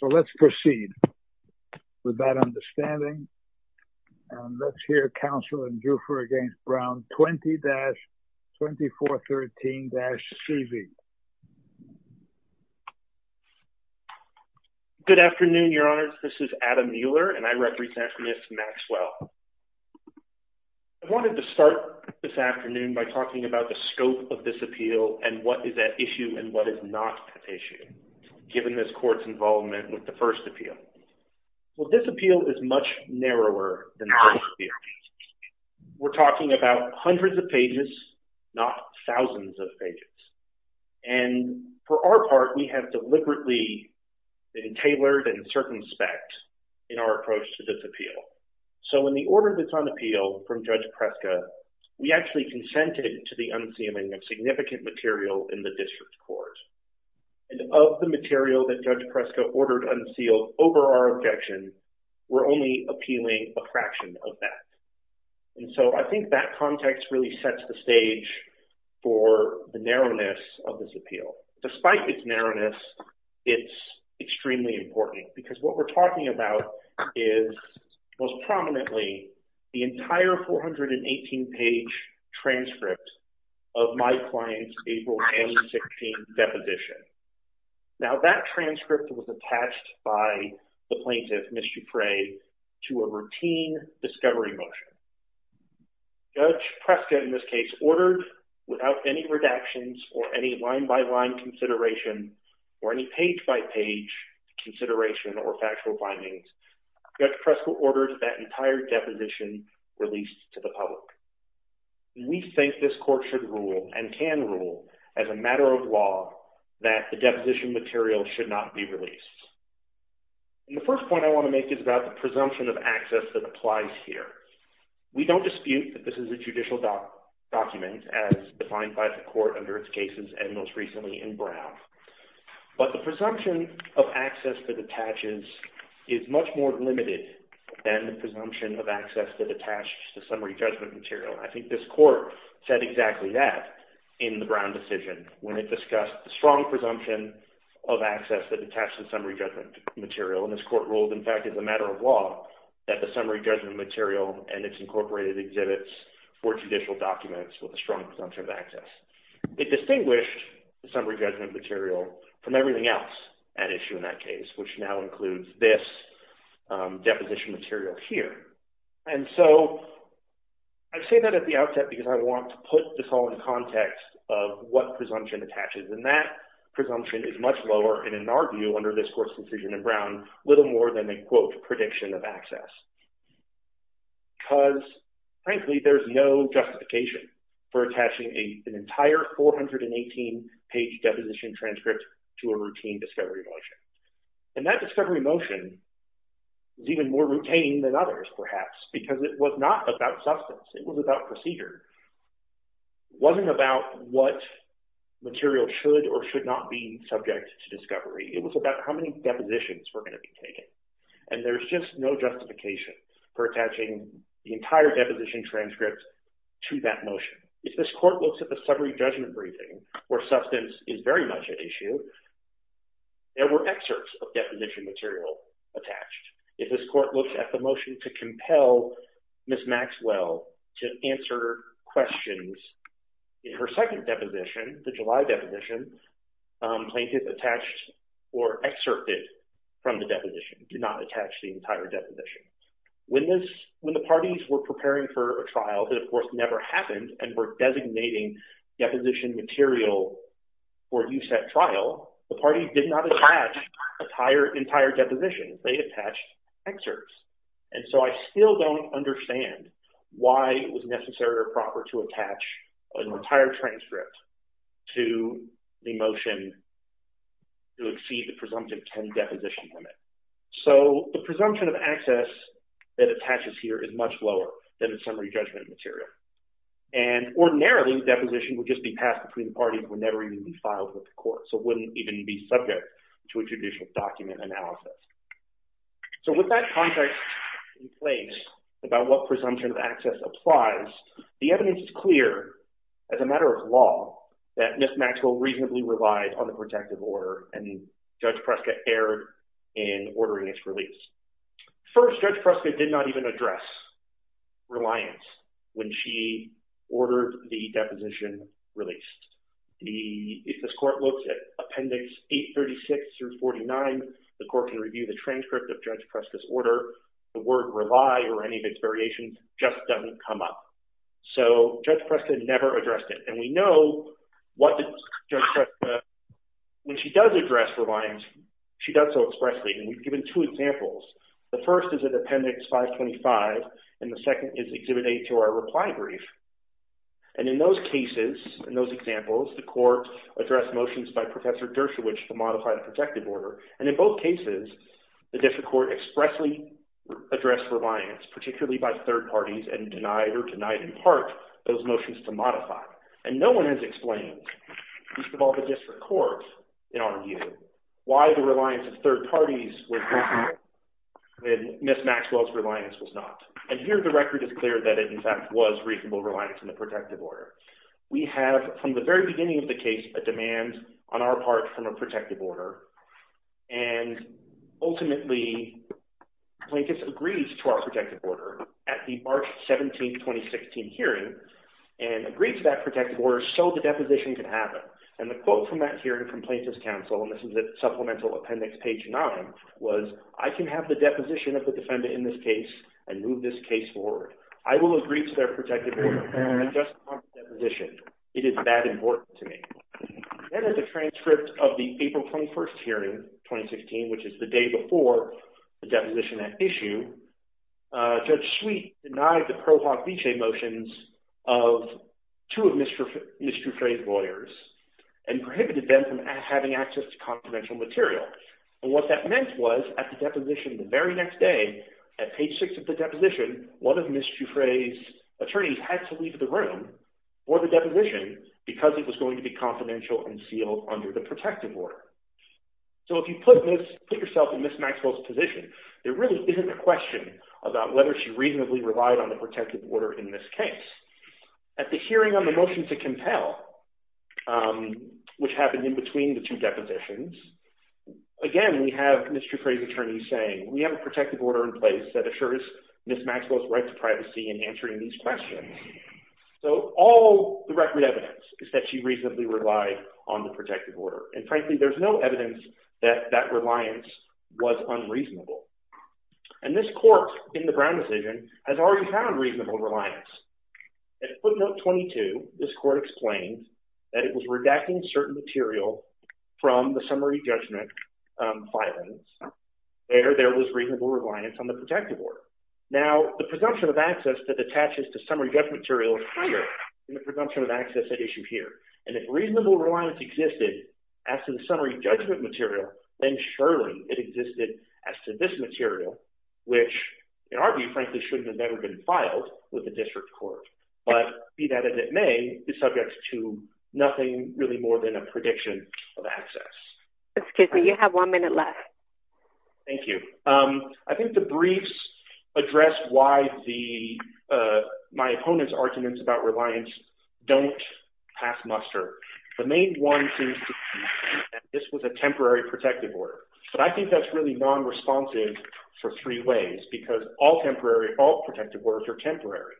So let's proceed with that understanding, and let's hear counsel in Diuffre v. Brown, 20-2413-CV. Good afternoon, Your Honors. This is Adam Mueller, and I represent Ms. Maxwell. I wanted to start this afternoon by talking about the scope of this appeal and what is at issue and what is not at issue. Given this court's involvement with the first appeal, well, this appeal is much narrower than the first appeal. We're talking about hundreds of pages, not thousands of pages. And for our part, we have deliberately tailored and circumspect in our approach to this appeal. So in the order that's on appeal from Judge Preska, we actually consented to the unseeming of significant material in the district court. And of the material that Judge Preska ordered unsealed over our objection, we're only appealing a fraction of that. And so I think that context really sets the stage for the narrowness of this appeal. Despite its narrowness, it's extremely important because what we're talking about is most prominently the entire 418-page transcript of my client's April 2016 deposition. Now, that transcript was attached by the plaintiff, Ms. Diuffre, to a routine discovery motion. Judge Preska, in this case, ordered without any redactions or any line-by-line consideration or any page-by-page consideration or factual findings, Judge Preska ordered that entire deposition released to the public. We think this court should rule and can rule as a matter of law that the deposition material should not be released. The first point I want to make is about the presumption of access that applies here. We don't dispute that this is a judicial document as defined by the court under its cases and most recently in Brown. But the presumption of access that attaches is much more limited than the presumption of access that attaches to summary judgment material. I think this court said exactly that in the Brown decision when it discussed the strong presumption of access that attaches to summary judgment material. And this court ruled, in fact, as a matter of law that the summary judgment material and its incorporated exhibits were judicial documents with a strong presumption of access. It distinguished the summary judgment material from everything else at issue in that case, which now includes this deposition material here. And so I say that at the outset because I want to put this all in context of what presumption attaches. And that presumption is much lower in our view under this court's decision in Brown, little more than a, quote, prediction of access. Because, frankly, there's no justification for attaching an entire 418-page deposition transcript to a routine discovery motion. And that discovery motion is even more routine than others, perhaps, because it was not about substance. It was about procedure. It wasn't about what material should or should not be subject to discovery. It was about how many depositions were going to be taken. And there's just no justification for attaching the entire deposition transcript to that motion. If this court looks at the summary judgment briefing where substance is very much at issue, there were excerpts of deposition material attached. If this court looks at the motion to compel Ms. Maxwell to answer questions in her second deposition, the July deposition, plaintiff attached or excerpted from the deposition, did not attach the entire deposition. When the parties were preparing for a trial that, of course, never happened and were designating deposition material for use at trial, the parties did not attach an entire deposition. They attached excerpts. And so I still don't understand why it was necessary or proper to attach an entire transcript to the motion to exceed the presumptive 10 deposition limit. So the presumption of access that attaches here is much lower than the summary judgment material. And ordinarily, the deposition would just be passed between the parties and would never even be filed with the court, so it wouldn't even be subject to a judicial document analysis. So with that context in place about what presumption of access applies, the evidence is clear as a matter of law that Ms. Maxwell reasonably relied on the protective order and Judge Prescott erred in ordering its release. First, Judge Prescott did not even address reliance when she ordered the deposition released. If this court looks at Appendix 836 through 49, the court can review the transcript of Judge Prescott's order. The word rely or any of its variations just doesn't come up. So Judge Prescott never addressed it. And we know what Judge Prescott, when she does address reliance, she does so expressly. And we've given two examples. The first is at Appendix 525, and the second is Exhibit A to our reply brief. And in those cases, in those examples, the court addressed motions by Professor Dershowitz to modify the protective order. And in both cases, the district court expressly addressed reliance, particularly by third parties, and denied or denied in part those motions to modify. And no one has explained, at least of all the district courts, in our review, why the reliance of third parties with Ms. Maxwell's reliance was not. And here the record is clear that it, in fact, was reasonable reliance in the protective order. We have, from the very beginning of the case, a demand on our part from a protective order. And ultimately, Plaintiff's agrees to our protective order at the March 17, 2016 hearing and agrees to that protective order so the deposition can happen. And the quote from that hearing from Plaintiff's counsel, and this is at Supplemental Appendix page 9, was, I can have the deposition of the defendant in this case and move this case forward. I will agree to their protective order and adjust upon the deposition. It is that important to me. And in the transcript of the April 21 hearing, 2016, which is the day before the deposition at issue, Judge Sweet denied the Pro Hoc Vice motions of two of Ms. Dufresne's lawyers and prohibited them from having access to confidential material. And what that meant was, at the deposition the very next day, at page 6 of the deposition, one of Ms. Dufresne's attorneys had to leave the room for the deposition because it was going to be confidential and sealed under the protective order. So if you put yourself in Ms. Maxwell's position, there really isn't a question about whether she reasonably relied on the protective order in this case. At the hearing on the motion to compel, which happened in between the two depositions, again, we have Ms. Dufresne's attorney saying, we have a protective order in place that assures Ms. Maxwell's right to privacy in answering these questions. So all the record evidence is that she reasonably relied on the protective order. And frankly, there's no evidence that that reliance was unreasonable. And this court, in the Brown decision, has already found reasonable reliance. At footnote 22, this court explained that it was redacting certain material from the summary judgment filings. There, there was reasonable reliance on the protective order. Now, the presumption of access that attaches to summary judgment material is higher than the presumption of access at issue here. And if reasonable reliance existed as to the summary judgment material, then surely it existed as to this material, which in our view, frankly, should have never been filed with the district court. But be that as it may, it's subject to nothing really more than a prediction of access. Excuse me, you have one minute left. Thank you. I think the briefs addressed why my opponent's arguments about reliance don't half-muster. The main one seems to be that this was a temporary protective order. But I think that's really nonresponsive for three ways, because all protective orders are temporary.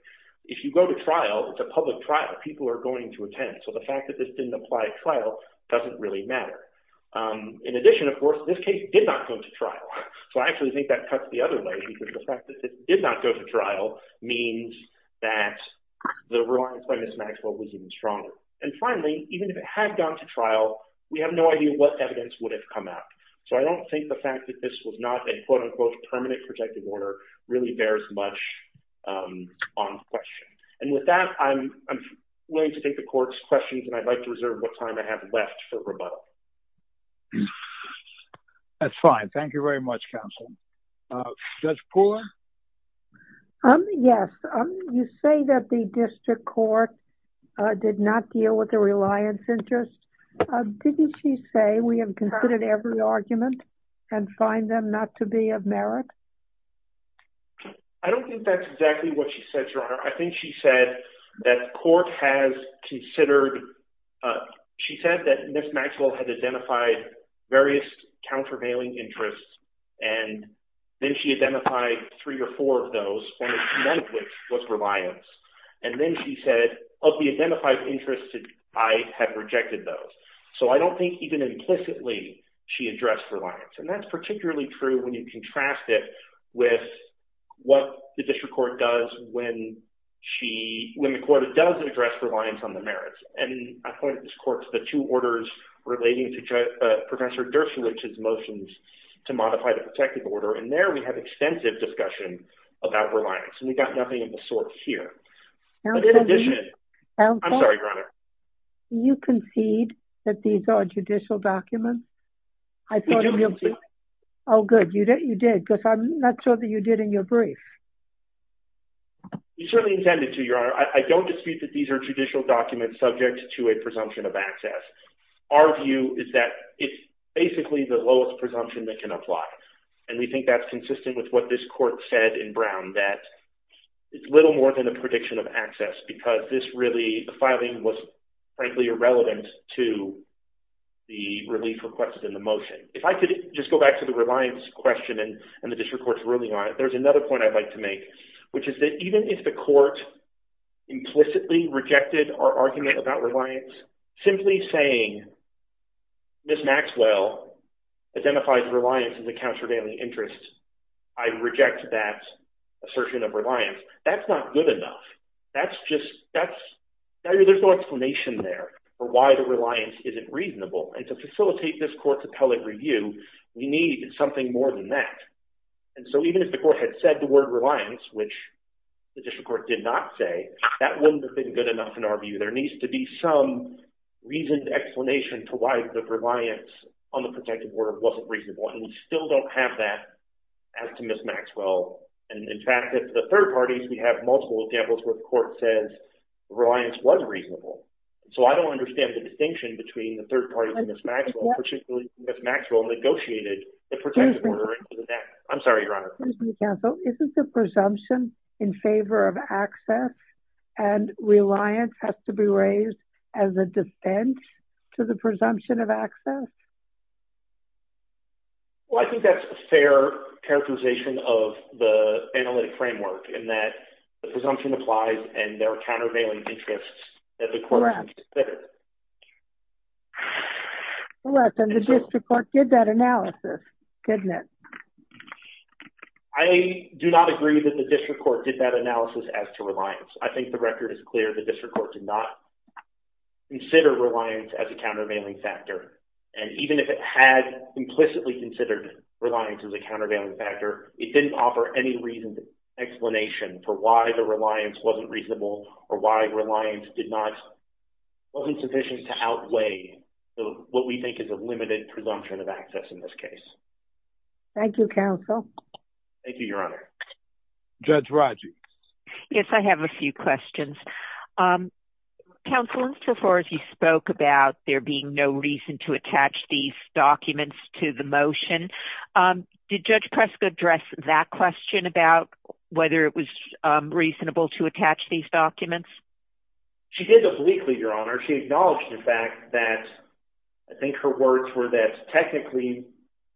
If you go to trial, it's a public trial that people are going to attend. So the fact that this didn't apply at trial doesn't really matter. In addition, of course, this case did not go to trial. So I actually think that cuts the other way, because the fact that it did not go to trial means that the reliance by Ms. Maxwell was even stronger. And finally, even if it had gone to trial, we have no idea what evidence would have come out. So I don't think the fact that this was not a quote-unquote permanent protective order really bears much on question. And with that, I'm willing to take the court's questions, and I'd like to reserve what time I have left for rebuttal. That's fine. Thank you very much, counsel. Judge Pooler? Yes. You say that the district court did not deal with the reliance interest. Didn't she say we have considered every argument and find them not to be of merit? I don't think that's exactly what she said, Your Honor. I think she said that the court has considered – she said that Ms. Maxwell had identified various countervailing interests, and then she identified three or four of those, and none of which was reliance. And then she said, of the identified interests, I have rejected those. So I don't think even implicitly she addressed reliance. And that's particularly true when you contrast it with what the district court does when she – when the court does address reliance on the merits. And I point this court to the two orders relating to Professor Dershowitz's motions to modify the protective order, and there we have extensive discussion about reliance, and we've got nothing of the sort here. But in addition – I'm sorry, Your Honor. Do you concede that these are judicial documents? Oh, good. You did. Because I'm not sure that you did in your brief. We certainly intended to, Your Honor. I don't dispute that these are judicial documents subject to a presumption of access. Our view is that it's basically the lowest presumption that can apply, and we think that's consistent with what this court said in Brown, that it's little more than a prediction of access because this really – the filing was, frankly, irrelevant to the relief requested in the motion. If I could just go back to the reliance question and the district court's ruling on it, there's another point I'd like to make, which is that even if the court implicitly rejected our argument about reliance, simply saying Ms. Maxwell identified reliance in the counts for daily interests, I reject that assertion of reliance. That's not good enough. That's just – there's no explanation there for why the reliance isn't reasonable. And to facilitate this court's appellate review, we need something more than that. And so even if the court had said the word reliance, which the district court did not say, that wouldn't have been good enough in our view. There needs to be some reasoned explanation to why the reliance on the protective order wasn't reasonable, and we still don't have that as to Ms. Maxwell. And, in fact, at the third parties, we have multiple examples where the court says reliance was reasonable. So I don't understand the distinction between the third parties and Ms. Maxwell, particularly Ms. Maxwell negotiated the protective order. I'm sorry, Your Honor. Ms. MacKenzie, isn't the presumption in favor of access and reliance has to be raised as a dissent to the presumption of access? Well, I think that's a fair characterization of the analytic framework in that the presumption applies, and there are countervailing interests that the court should consider. Correct. And the district court did that analysis, didn't it? I do not agree that the district court did that analysis as to reliance. I think the record is clear. The district court did not consider reliance as a countervailing factor. And even if it had implicitly considered reliance as a countervailing factor, it didn't offer any reason, explanation for why the reliance wasn't reasonable or why reliance did not, wasn't sufficient to outweigh what we think is a limited presumption of access in this case. Thank you, counsel. Thank you, Your Honor. Judge Rodgers. Yes, I have a few questions. Counsel, as far as you spoke about there being no reason to attach these documents to the motion, did Judge Prescott address that question about whether it was reasonable to attach these documents? She did those weekly, Your Honor. She acknowledged the fact that I think her words were that technically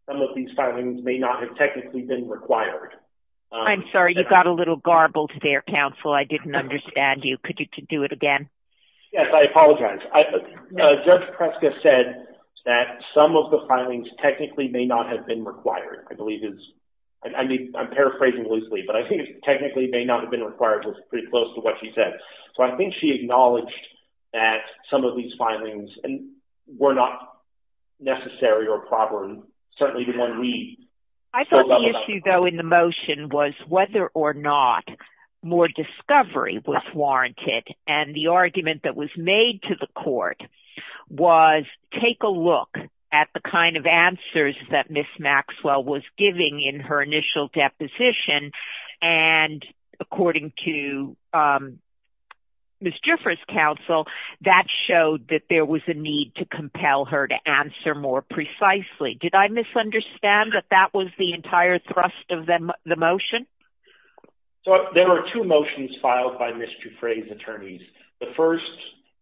some of these filings may not have technically been required. I'm sorry, you got a little garbled there, counsel. I didn't understand you. Could you do it again? Yes, I apologize. Judge Prescott said that some of the filings technically may not have been required. I'm paraphrasing loosely, but I think it technically may not have been required. It's pretty close to what she said. So I think she acknowledged that some of these filings were not necessary or proper and certainly did not read. I thought the issue, though, in the motion was whether or not more discovery was warranted. And the argument that was made to the court was take a look at the kind of answers that Ms. Maxwell was giving in her initial deposition. And according to Ms. Jiffers' counsel, that showed that there was a need to compel her to answer more precisely. Did I misunderstand that that was the entire thrust of the motion? There are two motions filed by Ms. Jiffers' attorneys. The first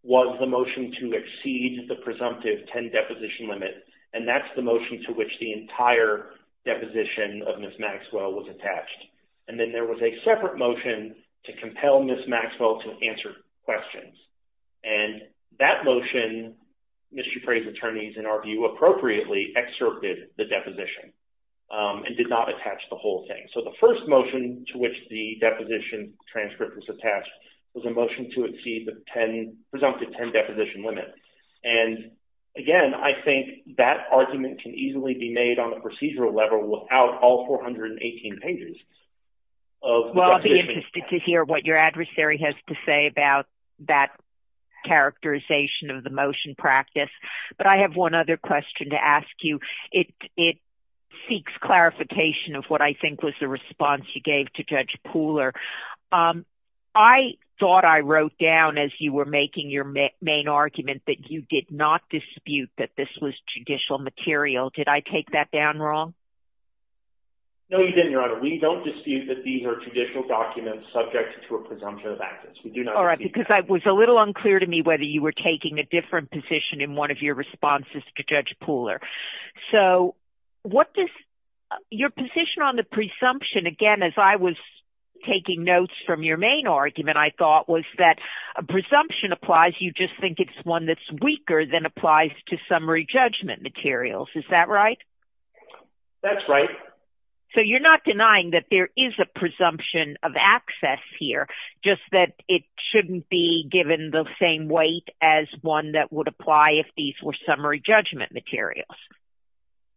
was the motion to exceed the presumptive 10 deposition limit, and that's the motion to which the entire deposition of Ms. Maxwell was attached. And then there was a separate motion to compel Ms. Maxwell to answer questions. And that motion, Ms. Jiffers' attorneys, in our view, appropriately excerpted the deposition and did not attach the whole thing. So the first motion to which the deposition transcript was attached was a motion to exceed the presumptive 10 deposition limit. And, again, I think that argument can easily be made on a procedural level without all 418 pages of deposition. I'd be interested to hear what your adversary has to say about that characterization of the motion practice. But I have one other question to ask you. It seeks clarification of what I think was the response you gave to Judge Pooler. I thought I wrote down, as you were making your main argument, that you did not dispute that this was judicial material. Did I take that down wrong? No, you didn't, Your Honor. We don't dispute that these are judicial documents subject to a presumption of access. We do not dispute that. All right, because it was a little unclear to me whether you were taking a different position in one of your responses to Judge Pooler. So, what does – your position on the presumption, again, as I was taking notes from your main argument, I thought, was that a presumption applies, you just think it's one that's weaker than applies to summary judgment materials. Is that right? That's right. So, you're not denying that there is a presumption of access here, just that it shouldn't be given the same weight as one that would apply if these were summary judgment materials.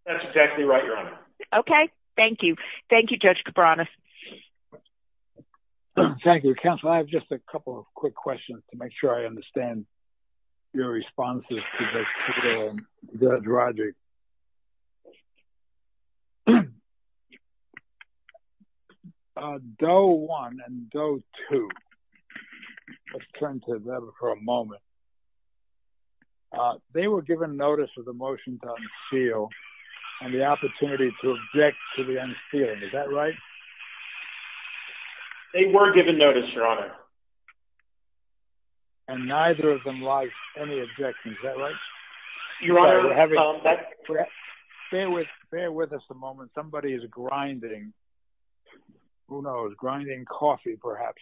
That's exactly right, Your Honor. Okay, thank you. Thank you, Judge Cabranes. Thank you, counsel. I have just a couple of quick questions to make sure I understand your responses to Judge Roderick. Doe 1 and Doe 2, let's turn to them for a moment. They were given notice of the motion to unseal and the opportunity to object to the unsealing. Is that right? They were given notice, Your Honor. And neither of them lodged any objections. Is that right? Your Honor, that's correct. Bear with us a moment. Somebody is grinding. Who knows? Grinding coffee, perhaps.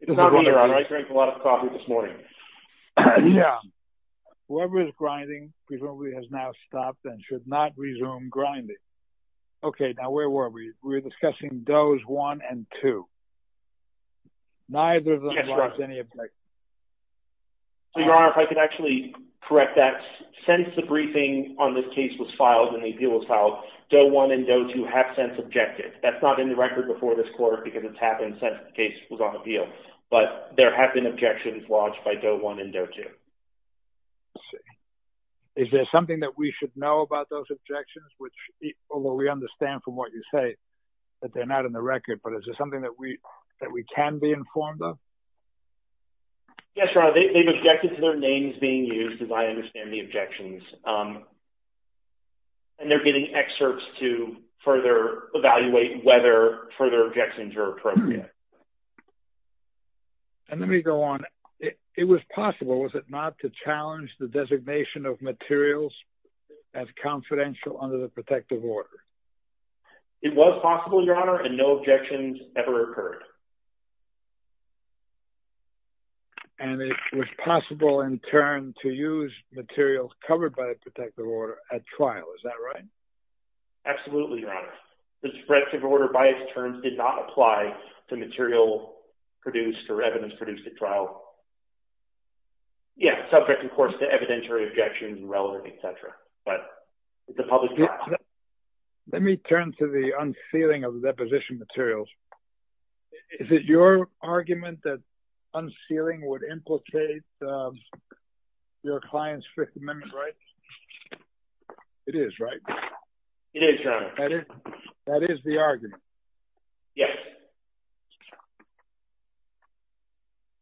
It's not me, Your Honor. I drank a lot of coffee this morning. Yeah. Whoever is grinding presumably has now stopped and should not resume grinding. Okay, now where were we? We were discussing Does 1 and 2. Neither of them lodged any objections. Your Honor, if I could actually correct that. Since the briefing on this case was filed and the appeal was filed, Doe 1 and Doe 2 have since objected. That's not in the record before this court because it's happened since the case was on appeal. But there have been objections lodged by Doe 1 and Doe 2. I see. Is there something that we should know about those objections? Although we understand from what you say that they're not in the record, but is there something that we can be informed of? Yes, Your Honor. They've objected to their names being used, as I understand the objections. And they're getting excerpts to further evaluate whether further objections are appropriate. And let me go on. It was possible, was it not, to challenge the designation of materials as confidential under the protective order? It was possible, Your Honor, and no objections ever occurred. And it was possible, in turn, to use materials covered by the protective order at trial. Is that right? Absolutely, Your Honor. The protective order, by its terms, did not apply to material produced or evidence produced at trial. Yeah, subject, of course, to evidentiary objections, irrelevant, et cetera. Let me turn to the unsealing of the deposition materials. Is it your argument that unsealing would implicate your client's Fifth Amendment rights? It is, right? It is, Your Honor. That is the argument? Yes.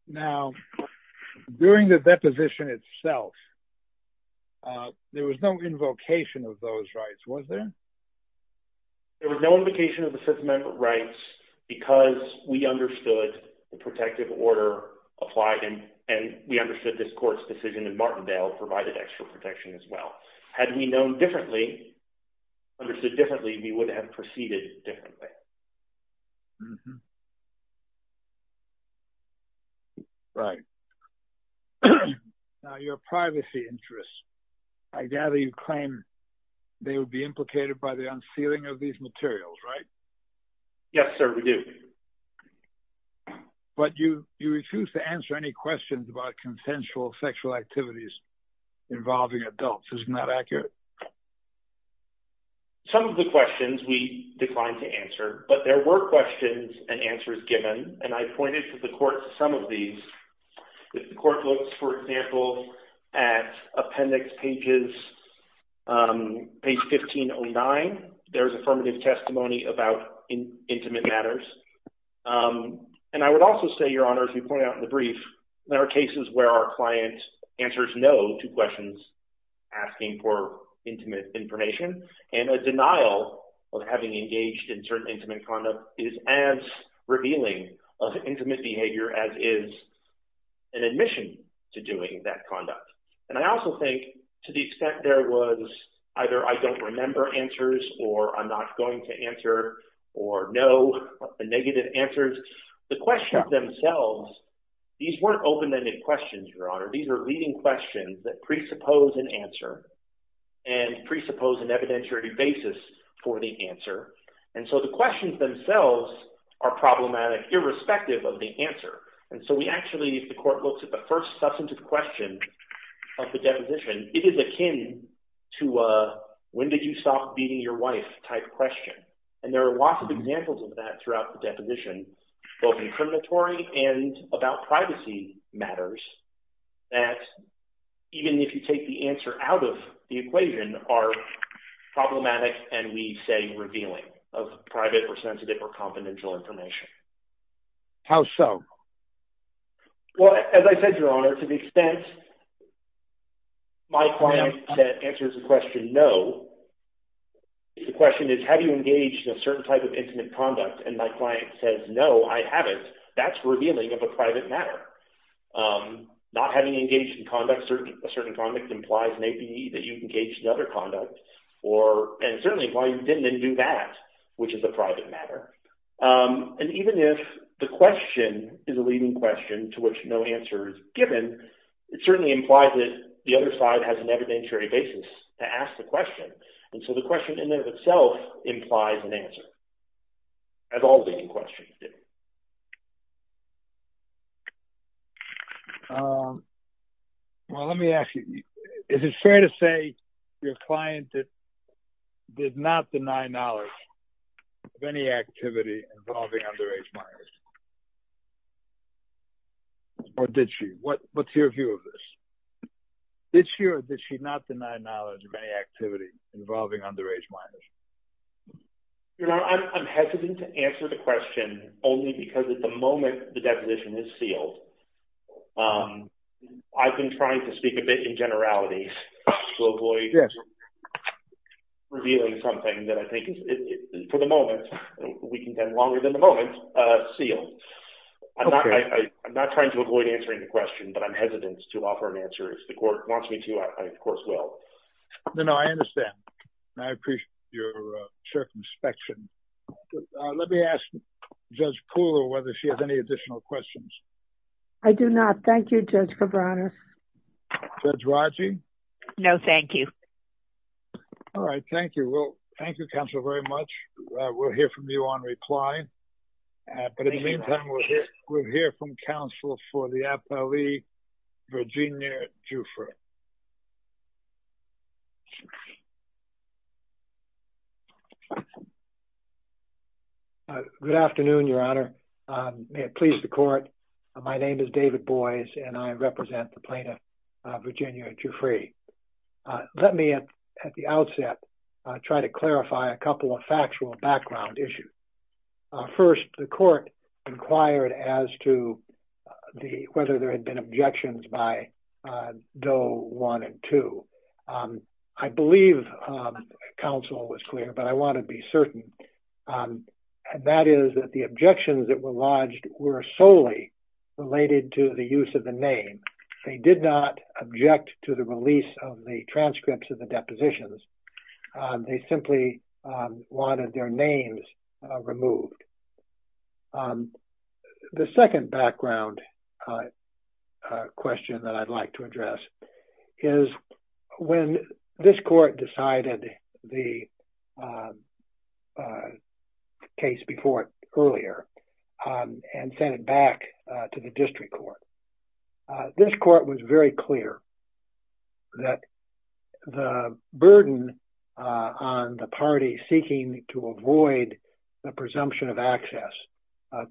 Now, during the deposition itself, there was no invocation of those rights, was there? There was no invocation of the Fifth Amendment rights because we understood the protective order applied, and we understood this court's decision in Martindale provided extra protection as well. Had we known differently, understood differently, we would have proceeded differently. Right. Now, your privacy interests, I gather you claim they would be implicated by the unsealing of these materials, right? Yes, sir, we do. But you refuse to answer any questions about consensual sexual activities involving adults. Isn't that accurate? Some of the questions we declined to answer, but there were questions and answers given, and I pointed to the court some of these. The court looks, for example, at appendix pages, page 1509. There's affirmative testimony about intimate matters. And I would also say, Your Honor, as you pointed out in the brief, there are cases where our client answers no to questions asking for intimate information, and a denial of having engaged in certain intimate conduct is as revealing of intimate behavior as is an admission to doing that conduct. And I also think to the extent there was either I don't remember answers or I'm not going to answer or no negative answers, the questions themselves, these weren't open-ended questions, Your Honor. These were leading questions that presuppose an answer and presuppose an evidentiary basis for the answer. And so the questions themselves are problematic irrespective of the answer. And so we actually – the court looked at the first substantive question of the deposition. It is akin to a when did you stop beating your wife type question. And there are lots of examples of that throughout the deposition, both incriminatory and about privacy matters, that even if you take the answer out of the equation are problematic and we say revealing of private or sensitive or confidential information. How so? Well, as I said, Your Honor, to the extent my client answers the question no, the question is have you engaged in a certain type of intimate conduct? And my client says no, I haven't. That's revealing of a private matter. Not having engaged in conduct – a certain conduct implies maybe that you've engaged in other conduct or – and certainly why you didn't then do that, which is a private matter. And even if the question is a leading question to which no answer is given, it certainly implies that the other side has an evidentiary basis to ask the question. And so the question in and of itself implies an answer. As all leading questions do. Well, let me ask you, is it fair to say your client did not deny knowledge of any activity involving underage minors? Or did she? What's your view of this? Did she or did she not deny knowledge of any activity involving underage minors? Your Honor, I'm hesitant to answer the question only because at the moment the definition is sealed. I've been trying to speak a bit in generalities to avoid revealing something that I think is, for the moment, we can spend longer than the moment, sealed. I'm not trying to avoid answering the question, but I'm hesitant to offer an answer. If the court wants me to, I of course will. No, no, I understand. I appreciate your circumspection. Let me ask Judge Poole whether she has any additional questions. I do not. Thank you, Judge. Judge Raji? No, thank you. All right. Thank you. Well, thank you, counsel, very much. We'll hear from you on reply. But in the meantime, we'll hear from counsel for the APLE, Virginia Dufresne. Judge Raji? Good afternoon, Your Honor. May it please the court. My name is David Boies, and I represent the plaintiff, Virginia Dufresne. Let me, at the outset, try to clarify a couple of factual background issues. First, the court inquired as to whether there had been objections by Doe 1 and 2. I believe counsel was clear, but I want to be certain. That is that the objections that were lodged were solely related to the use of the name. They did not object to the release of the transcripts of the depositions. They simply wanted their names removed. The second background question that I'd like to address is when this court decided the case before it earlier and sent it back to the district court, this court was very clear that the burden of the party seeking to avoid the presumption of access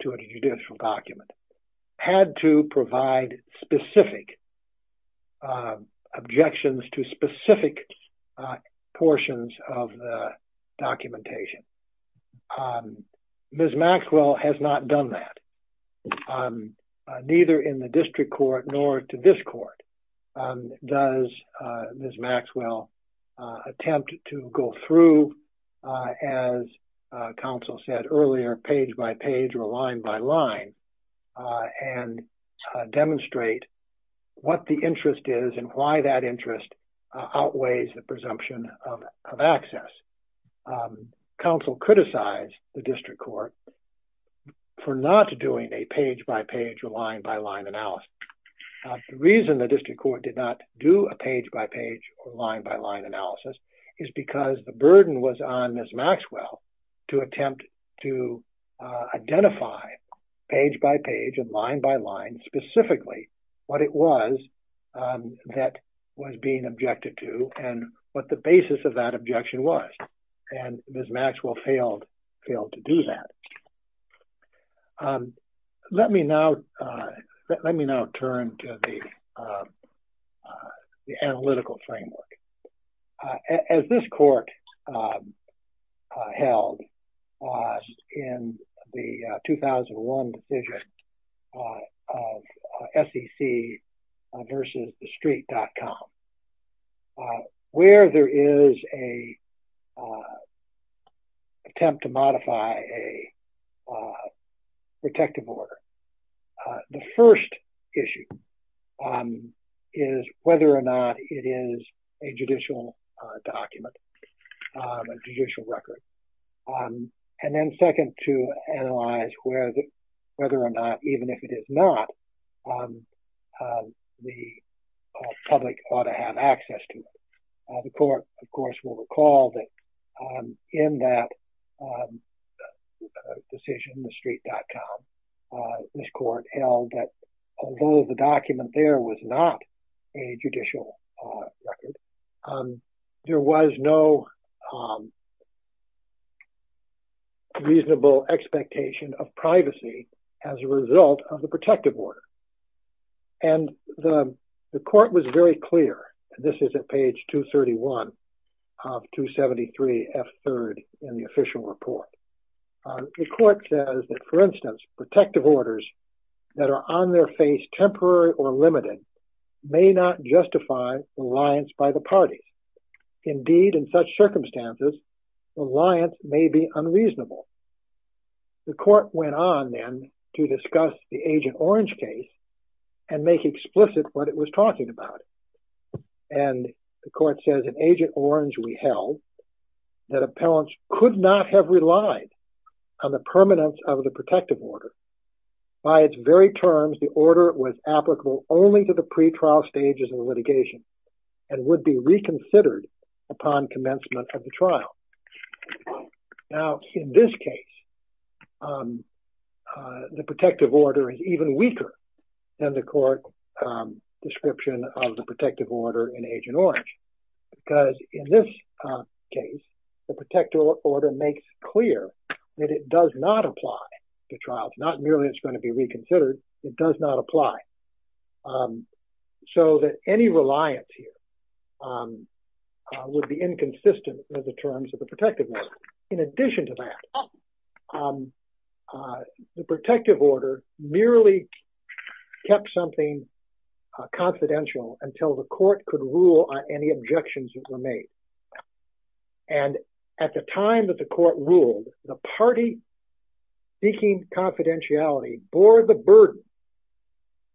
to a judicial document had to provide specific objections to specific portions of the documentation. Ms. Maxwell has not done that, neither in the district court nor to this court. Does Ms. Maxwell attempt to go through, as counsel said earlier, page-by-page or line-by-line and demonstrate what the interest is and why that interest outweighs the presumption of access? Counsel criticized the district court for not doing a page-by-page or line-by-line analysis. The reason the district court did not do a page-by-page or line-by-line analysis is because the burden was on Ms. Maxwell to attempt to identify page-by-page and line-by-line specifically what it was that was being objected to and what the basis of that objection was. Ms. Maxwell failed to do that. Let me now turn to the analytical framework. As this court held in the 2001 decision of SEC versus the street.com, where there is an attempt to modify a protective order, the first issue is whether or not it is a judicial document, a judicial record. And then second, to analyze whether or not, even if it is not, the public ought to have access to it. The court, of course, will recall that in that decision, the street.com, this court held that although the document there was not a judicial record, there was no reasonable expectation of privacy as a result of the protective order. And the court was very clear, and this is at page 231 of 273F3 in the official report. The court says that, for instance, protective orders that are on their face temporary or limited may not justify reliance by the parties. Indeed, in such circumstances, reliance may be unreasonable. The court went on then to discuss the Agent Orange case and make explicit what it was talking about. And the court says in Agent Orange, we held that appellants could not have relied on the permanence of the protective order. By its very terms, the order was applicable only to the pretrial stages of litigation and would be reconsidered upon commencement of the trial. Now, in this case, the protective order is even weaker than the court description of the protective order in Agent Orange. Because in this case, the protective order makes clear that it does not apply to trials. Not merely it's going to be reconsidered, it does not apply. So that any reliance here would be inconsistent with the terms of the protective order. In addition to that, the protective order merely kept something confidential until the court could rule on any objections that were made. And at the time that the court ruled, the party seeking confidentiality bore the burden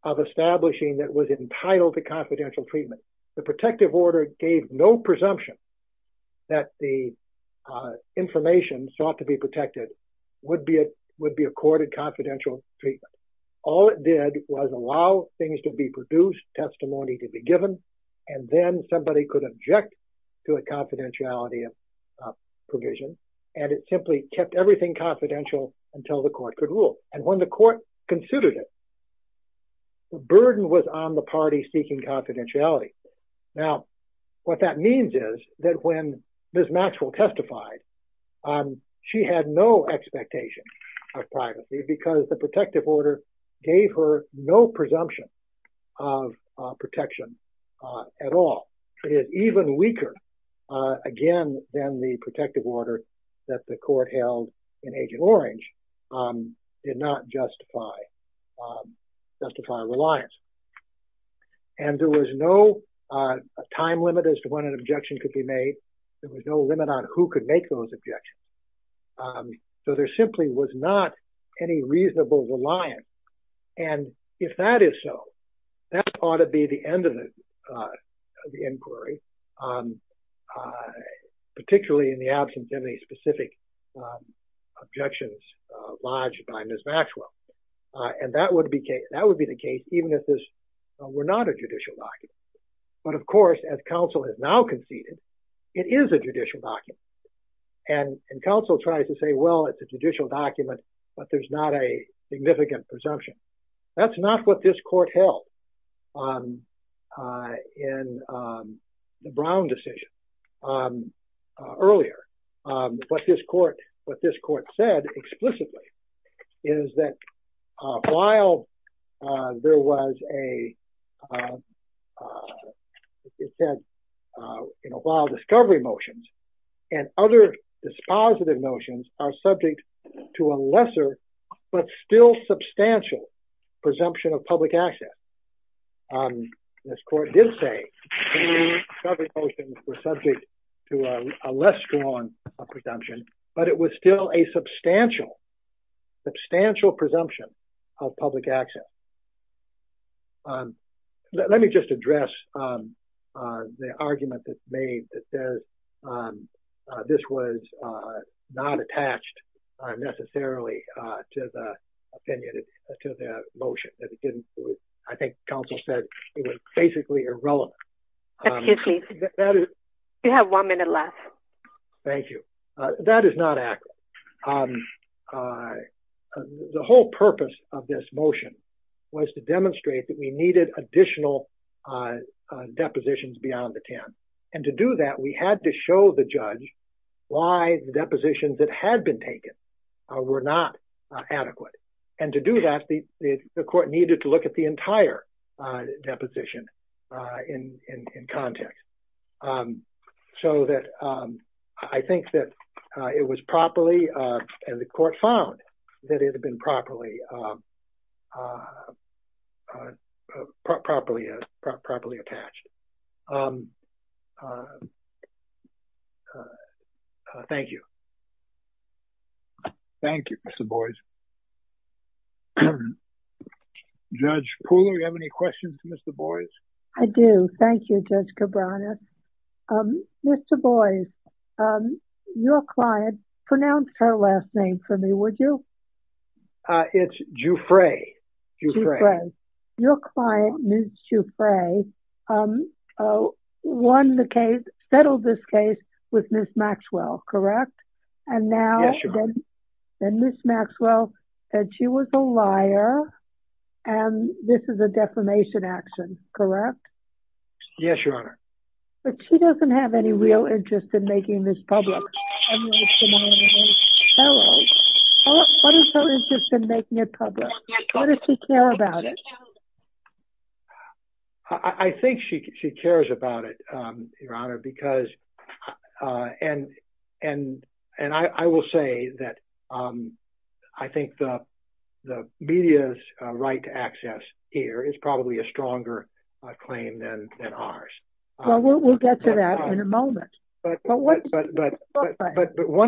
of establishing that it was entitled to confidential treatment. The protective order gave no presumption that the information sought to be protected would be accorded confidential treatment. All it did was allow things to be produced, testimony to be given, and then somebody could object to a confidentiality provision. And it simply kept everything confidential until the court could rule. And when the court considered it, the burden was on the party seeking confidentiality. Now, what that means is that when Ms. Maxwell testified, she had no expectation of privacy because the protective order gave her no presumption of protection at all. It is even weaker, again, than the protective order that the court held in Agent Orange did not justify reliance. And there was no time limit as to when an objection could be made. There was no limit on who could make those objections. So there simply was not any reasonable reliance. And if that is so, that ought to be the end of the inquiry, particularly in the absence of any specific objections lodged by Ms. Maxwell. And that would be the case even if this were not a judicial argument. But of course, as counsel has now conceded, it is a judicial document. And counsel tries to say, well, it's a judicial document, but there's not a significant presumption. That's not what this court held in the Brown decision earlier. But what this court said explicitly is that while there was a it said, while discovery motions and other dispositive motions are subject to a lesser but still substantial presumption of public access. This court did say discovery motions were subject to a less strong presumption, but it was still a substantial, substantial presumption of public access. Let me just address the argument that's made that says this was not attached necessarily to the motion. I think counsel said it was basically irrelevant. You have one minute left. Thank you. That is not accurate. The whole purpose of this motion was to demonstrate that we needed additional depositions beyond the 10. And to do that, we had to show the judge why the depositions that had been taken were not adequate. And to do that, the court needed to look at the entire deposition in context. So that I think that it was properly and the court found that it had been properly attached. Thank you. Thank you, Mr. Boies. Judge Poole, do you have any questions for Mr. Boies? I do. Thank you, Judge Cabranes. Mr. Boies, your client, pronounce her last name for me, would you? It's Jufre. Jufre. Your client, Ms. Jufre, won the case, settled this case with Ms. Maxwell, correct? Yes, Your Honor. And Ms. Maxwell said she was a liar and this is a defamation action, correct? Yes, Your Honor. But she doesn't have any real interest in making this public. What is her interest in making it public? Why does she care about it? I think she cares about it, Your Honor, because and I will say that I think the media's right to access here is probably a stronger claim than ours. Well, we'll get to that in a moment. But one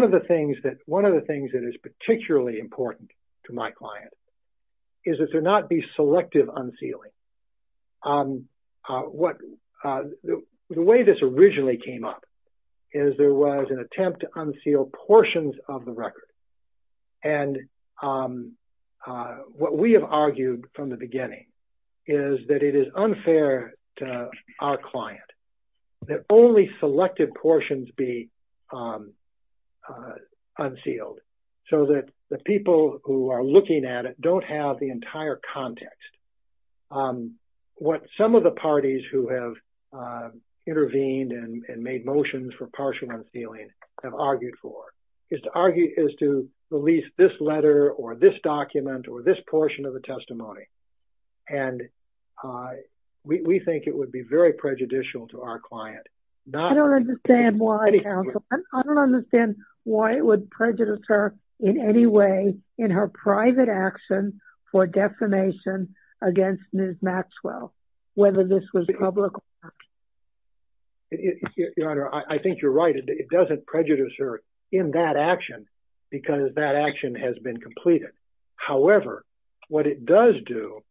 of the things that is particularly important to my client is that there not be selective unsealing. The way this originally came up is there was an attempt to unseal portions of the record. And what we have argued from the beginning is that it is unfair to our client that only selected portions be unsealed so that the people who are looking at it don't have the entire context of what some of the parties who have intervened and made motions for partial unsealing have argued for is to release this letter or this document or this portion of the testimony. And we think it would be very prejudicial to our client. I don't understand why, counsel. I don't understand why it would prejudice her in any way in her private action for defamation against Ms. Maxwell, whether this was public or not. Your Honor, I think you're right. It doesn't prejudice her in that action because that action has been completed. However, what it does do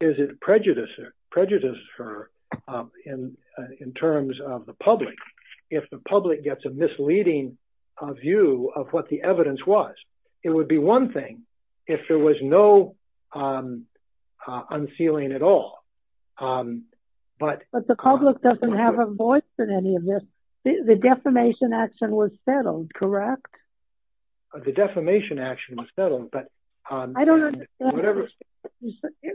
is it prejudices her in terms of the public. If the public gets a misleading view of what the evidence was, it would be one thing if there was no unsealing at all. But the public doesn't have a voice in any of this. The defamation action was settled, correct? The defamation action was settled. I don't understand. Is there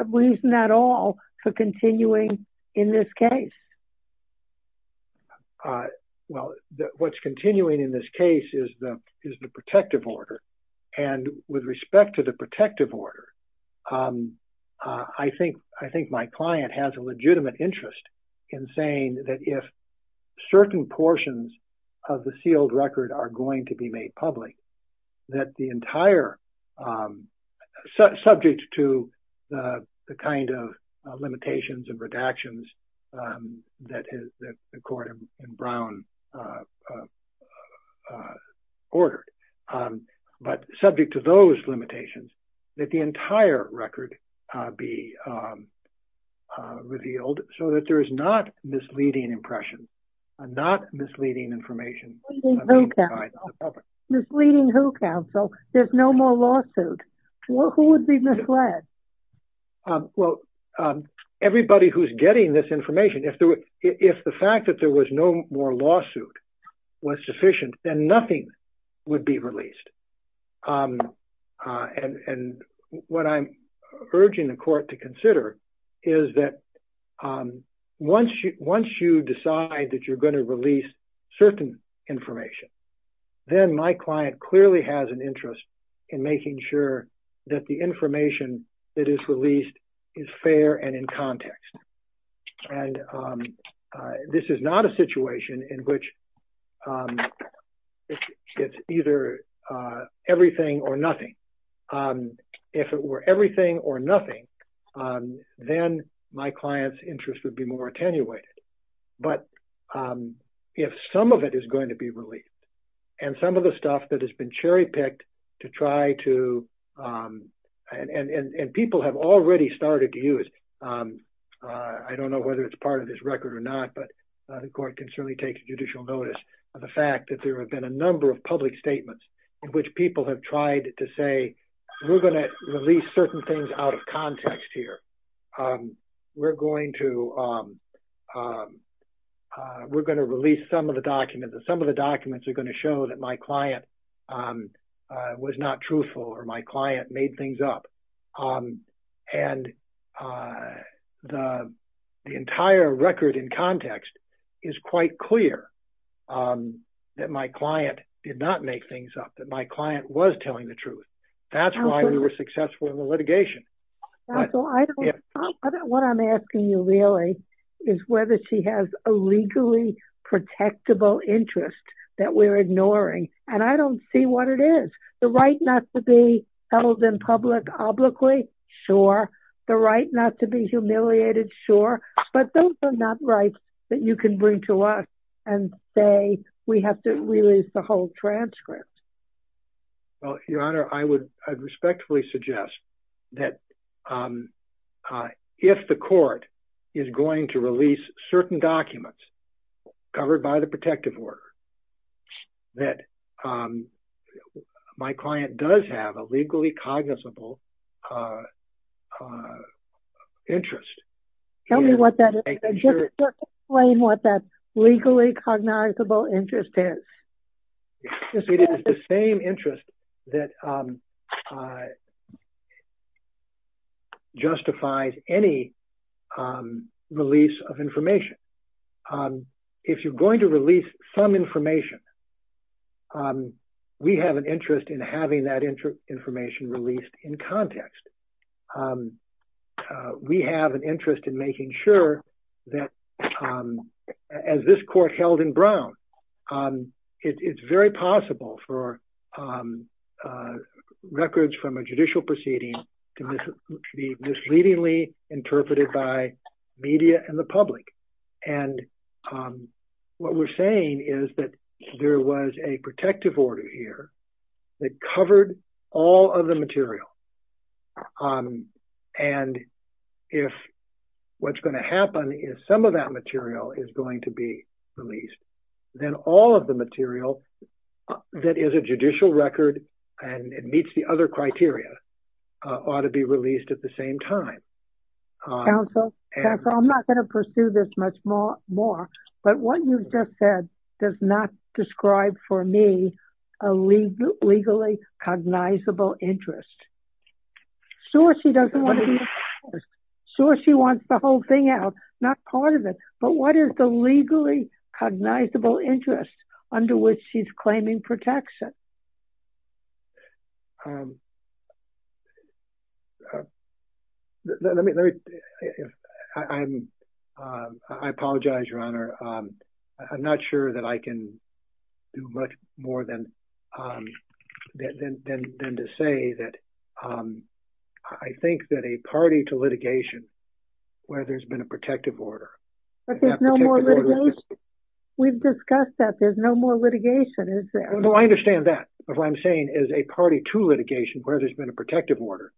a reason at all for continuing in this case? Well, what's continuing in this case is the protective order. And with respect to the protective order, I think my client has a legitimate interest in saying that if certain portions of the sealed record are going to be made public, that the entire subject to the kind of limitations and redactions that the court in Brown ordered. But subject to those limitations, that the entire record be revealed so that there is not misleading impression, not misleading information. Misleading who counsel? There's no more lawsuit. Who would be misled? Well, everybody who's getting this information. If the fact that there was no more lawsuit was sufficient, then nothing would be released. And what I'm urging the court to consider is that once you decide that you're going to release certain information, then my client clearly has an interest in making sure that the information that is released is fair and in context. And this is not a situation in which it's either everything or nothing. If it were everything or nothing, then my client's interest would be more attenuated. But if some of it is going to be released and some of the stuff that has been cherry picked to try to... And people have already started to use. I don't know whether it's part of this record or not, but the court can certainly take judicial notice of the fact that there have been a number of public statements in which people have tried to say, we're going to release certain things out of context here. We're going to release some of the documents and some of the documents are going to show that my client was not truthful or my client made things up. And the entire record in context is quite clear that my client did not make things up, that my client was telling the truth. That's why we were successful in the litigation. What I'm asking you really is whether she has a legally protectable interest that we're ignoring. And I don't see what it is. The right not to be held in public obliquely, sure. The right not to be humiliated, sure. But those are not rights that you can bring to us and say we have to release the whole transcript. Well, Your Honor, I would respectfully suggest that if the court is going to release certain documents covered by the protective order, that my client does have a legally cognizable interest. Tell me what that is. Explain what that legally cognizable interest is. It is the same interest that justifies any release of information. If you're going to release some information, we have an interest in having that information released in context. We have an interest in making sure that, as this court held in Brown, it's very possible for records from a judicial proceeding to be misleadingly interpreted by media and the public. And what we're saying is that there was a protective order here that covered all of the material. And if what's going to happen is some of that material is going to be released, then all of the material that is a judicial record and it meets the other criteria ought to be released at the same time. Counsel, I'm not going to pursue this much more. But what you've just said does not describe for me a legally cognizable interest. Sure, she doesn't want to use the records. Sure, she wants the whole thing out, not part of it. But what is the legally cognizable interest under which she's claiming protection? I apologize, Your Honor. I'm not sure that I can do much more than to say that I think that a party to litigation where there's been a protective order... But there's no more litigation. We've discussed that. There's no more litigation, is there? No, I understand that. But what I'm saying is a party to litigation where there's been a protective order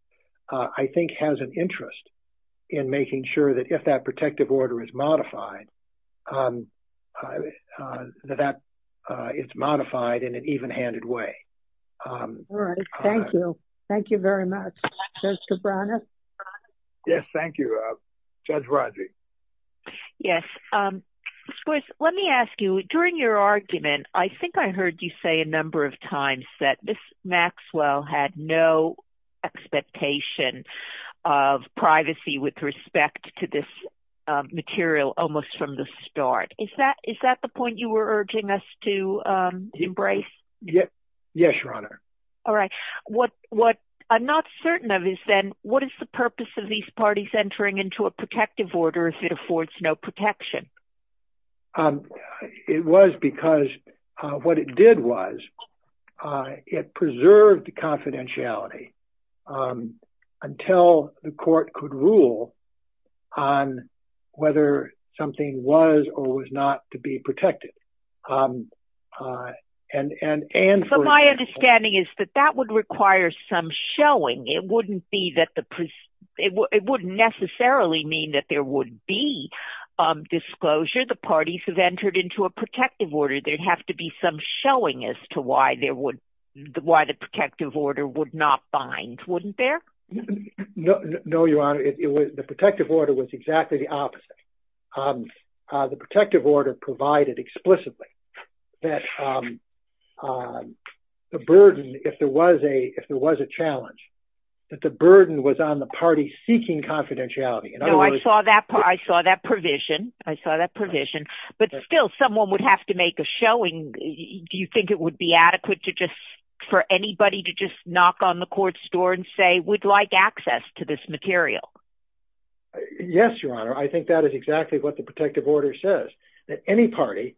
in making sure that if that protective order is modified, that it's modified in an even-handed way. All right, thank you. Thank you very much. Yes, thank you. Judge Rodgers? Yes. Let me ask you, during your argument, I think I heard you say a number of times that Ms. Maxwell had no expectation of privacy with respect to this material almost from the start. Is that the point you were urging us to embrace? Yes, Your Honor. All right. What I'm not certain of is then what is the purpose of these parties entering into a protective order if it affords no protection? It was because what it did was it preserved the confidentiality until the court could rule on whether something was or was not to be protected. My understanding is that that would require some showing. It wouldn't necessarily mean that there would be disclosure. The parties have entered into a protective order. There'd have to be some showing as to why the protective order would not bind. Wouldn't there? No, Your Honor. The protective order was exactly the opposite. The protective order provided explicitly that the burden, if there was a challenge, that the burden was on the parties seeking confidentiality. I saw that provision. I saw that provision. But still, someone would have to make a showing. Do you think it would be adequate for anybody to just knock on the court's door and say, we'd like access to this material? Yes, Your Honor. I think that is exactly what the protective order says, that any party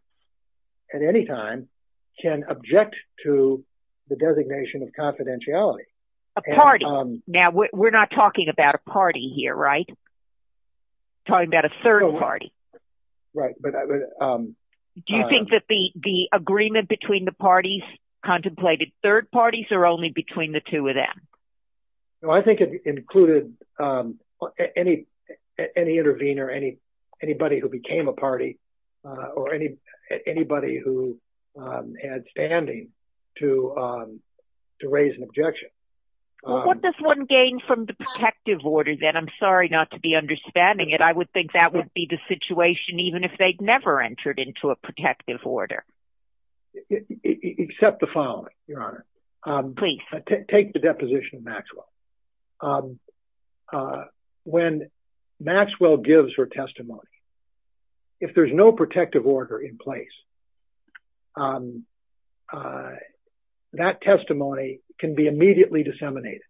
at any time can object to the designation of confidentiality. A party. We're not talking about a party here, right? We're talking about a third party. Right. Do you think that the agreement between the parties contemplated third parties or only between the two of them? I think it included any intervener, anybody who became a party or anybody who had standing to raise an objection. What does one gain from the protective order then? I'm sorry not to be understanding it. I would think that would be the situation even if they'd never entered into a protective order. Accept the following, Your Honor. Please. Take the deposition of Maxwell. When Maxwell gives her testimony, if there's no protective order in place, that testimony can be immediately disseminated.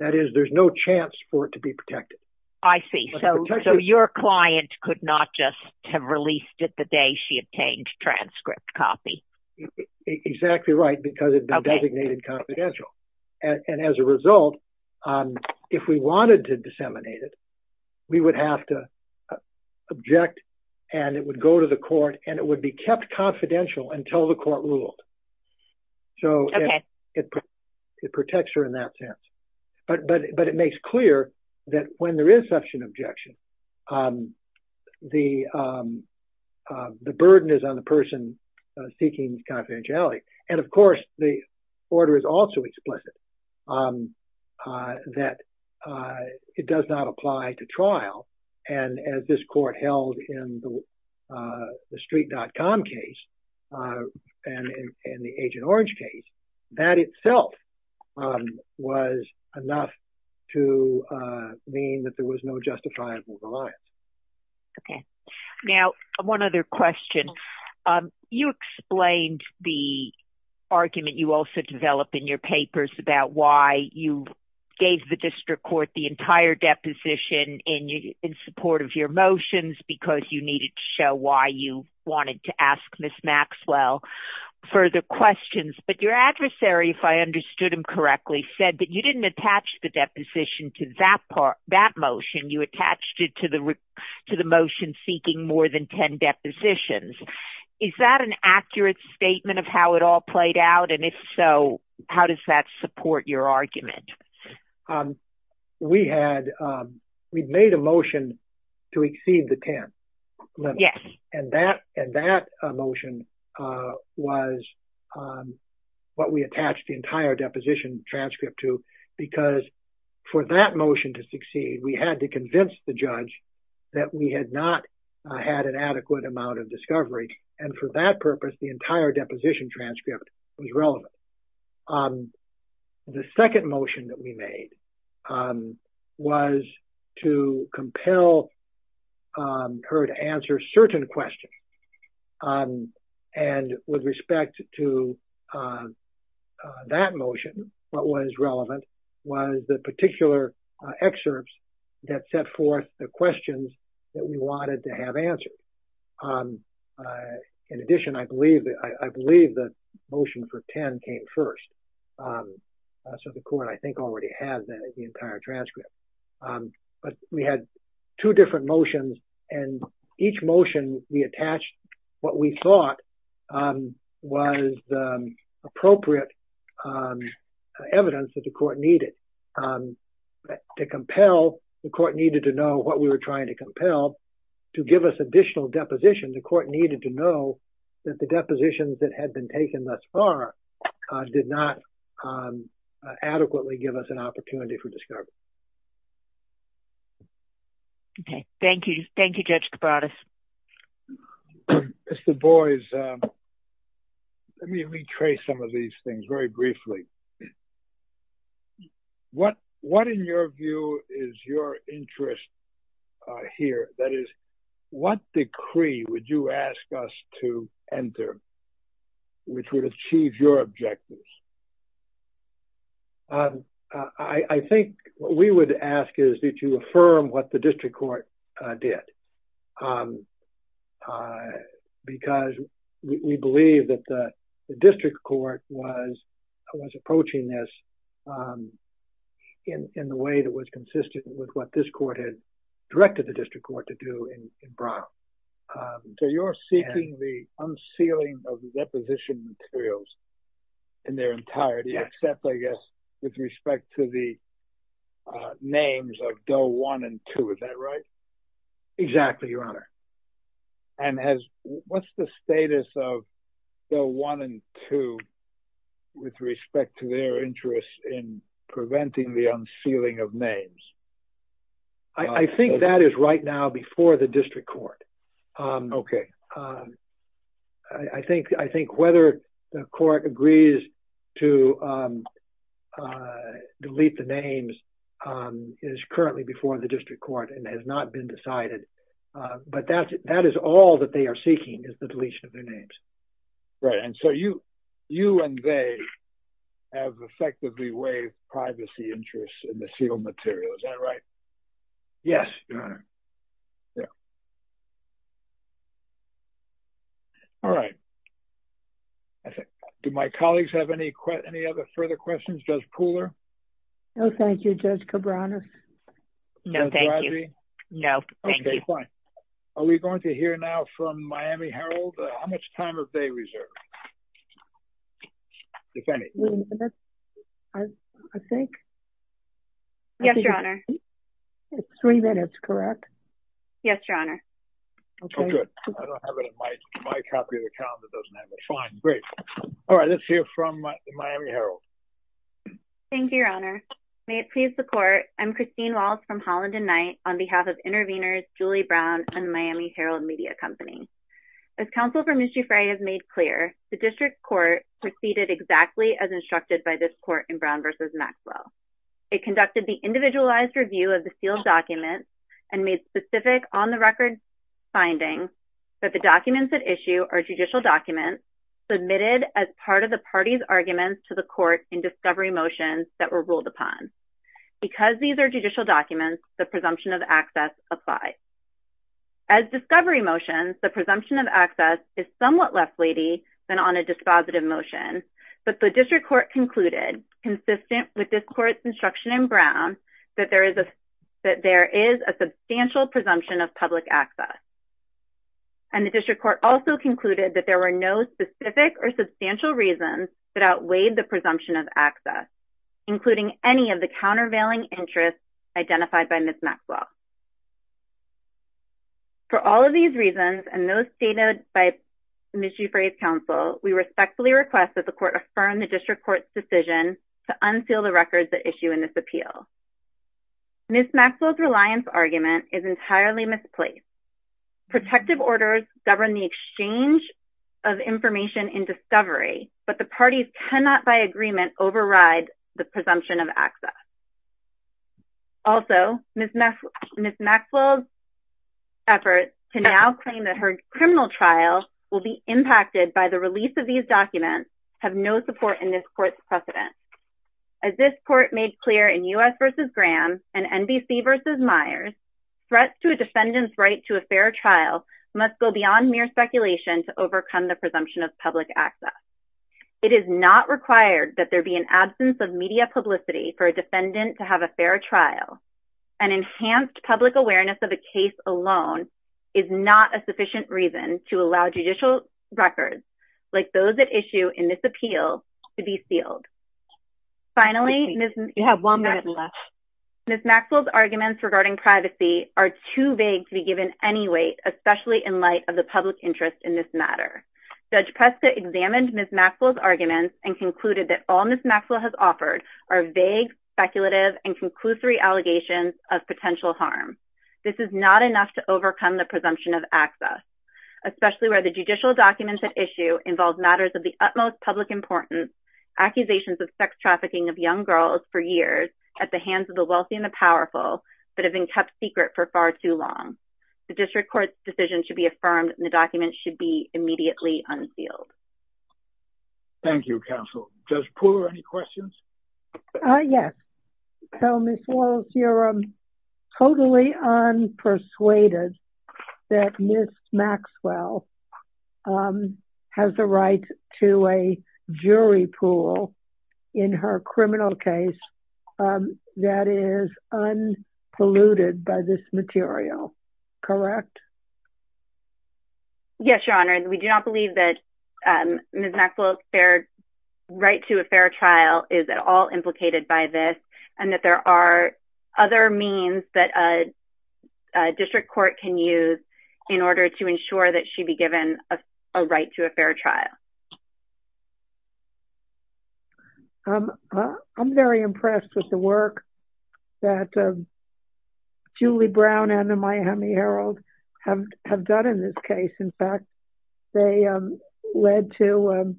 That is, there's no chance for it to be protected. I see. So your client could not just have released it the day she obtained transcript copy. Exactly right, because it'd been designated confidential. As a result, if we wanted to disseminate it, we would have to object and it would go to the court and it would be kept confidential until the court ruled. Okay. It protects her in that sense. But it makes clear that when there is such an objection, the burden is on the person seeking confidentiality. And of course, the order is also explicit that it does not apply to trial. And as this court held in the street.com case and in the Agent Orange case, that itself was enough to mean that there was no justifiable violence. Okay. Now, one other question. You explained the argument you also developed in your papers about why you gave the district court the entire deposition in support of your motions because you needed to show why you wanted to ask Ms. Maxwell further questions. But your adversary, if I understood him correctly, said that you didn't attach the deposition to that motion. You attached it to the motion seeking more than 10 depositions. Is that an accurate statement of how it all played out? And if so, how does that support your argument? We made a motion to exceed the 10 limit. Yes. And that motion was what we attached the entire deposition transcript to because for that motion to succeed, we had to convince the judge that we had not had an adequate amount of discovery. And for that purpose, the entire deposition transcript was relevant. The second motion that we made was to compel her to answer certain questions and with respect to that motion, what was relevant was the particular excerpts that set forth the questions that we wanted to have answered. In addition, I believe the motion for 10 came first. So the court, I think, already has the entire transcript. But we had two different motions and each motion we attached what we thought was appropriate evidence that the court needed. To compel, the court needed to know what we were trying to compel to give us additional deposition. The court needed to know that the depositions that had been taken thus far did not adequately give us an opportunity for discovery. Okay, thank you. Thank you, Judge Kabates. Mr. Boies, let me retrace some of these things very briefly. What in your view is your interest here? That is, what decree would you ask us to enter which would achieve your objectives? I think what we would ask is that you affirm what the district court did. Because we believe that the district court was approaching this in the way that was consistent with what this court had directed the district court to do in Brown. So you're seeking the unsealing of the deposition materials in their entirety except, I guess, with respect to the names of Doe 1 and 2, is that right? Exactly, Your Honor. And what's the status of Doe 1 and 2 with respect to their interest in preventing the unsealing of names? I think that is right now before the district court. Okay. I think whether the court agrees to delete the names is currently before the district court and has not been decided. But that is all that they are seeking is the deletion of their names. Right, and so you and they have effectively waived Yes, Your Honor. All right. Do my colleagues have any other further questions? Judge Pooler? No, thank you, Judge Cabranes. No, thank you. Okay, fine. Are we going to hear now from Miami Herald? How much time have they reserved? If any. Three minutes, I think. Yes, Your Honor. Three minutes, correct? Yes, Your Honor. Okay, good. I don't have it in my copy of the calendar. Fine, great. All right, let's hear from Miami Herald. Thank you, Your Honor. May it please the court, I'm Christine Wiles from Holland and Knight on behalf of Intervenors, Julie Brown and Miami Herald Media Company. As counsel Vermuthi Frey has made clear, the district court proceeded exactly as instructed by this court in Brown v. Maxwell. It conducted the individualized review of the sealed documents and made specific on-the-record findings that the documents at issue are judicial documents submitted as part of the party's arguments to the court in discovery motions that were ruled upon. Because these are judicial documents, the presumption of access applies. As discovery motions, the presumption of access is somewhat less weighty but the district court concluded, consistent with this court's instruction in Brown, that there is a substantial presumption of public access. And the district court also concluded that there were no specific or substantial reasons that outweighed the presumption of access, including any of the countervailing interests identified by Ms. Maxwell. For all of these reasons and those stated by Ms. Julie Frey's counsel, we respectfully request that the court affirm the district court's decision to unseal the records at issue in this appeal. Ms. Maxwell's reliance argument is entirely misplaced. Protective orders govern the exchange of information in discovery, but the parties cannot by agreement override the presumption of access. Also, Ms. Maxwell's efforts to now claim that her criminal trial will be impacted by the release of these documents have no support in this court's precedent. As this court made clear in U.S. v. Graham and NBC v. Myers, threats to a defendant's right to a fair trial must go beyond mere speculation to overcome the presumption of public access. It is not required that there be an absence of media publicity for a defendant to have a fair trial. An enhanced public awareness of a case alone to allow judicial records like those at issue in this appeal to be sealed. Finally... You have one minute left. Ms. Maxwell's arguments regarding privacy are too vague to be given any weight, especially in light of the public interest in this matter. Judge Presta examined Ms. Maxwell's arguments and concluded that all Ms. Maxwell has offered are vague, speculative, and conclusory allegations of potential harm. This is not enough to overcome the presumption of access, especially where the judicial documents at issue involve matters of the utmost public importance, accusations of sex trafficking of young girls for years at the hands of the wealthy and the powerful that have been kept secret for far too long. The district court's decision should be affirmed and the documents should be immediately unsealed. Thank you, counsel. Judge Pooler, any questions? Yes. So, Ms. Wallace, you're totally unpersuaded that Ms. Maxwell has the right to a jury pool in her criminal case that is unpolluted by this material. Correct? Yes, Your Honor. We do not believe that Ms. Maxwell's right to a fair trial is at all implicated by this and that there are other means that a district court can use in order to ensure that she be given a right to a fair trial. I'm very impressed with the work that Julie Brown and the Miami Herald have done in this case. In fact, they led to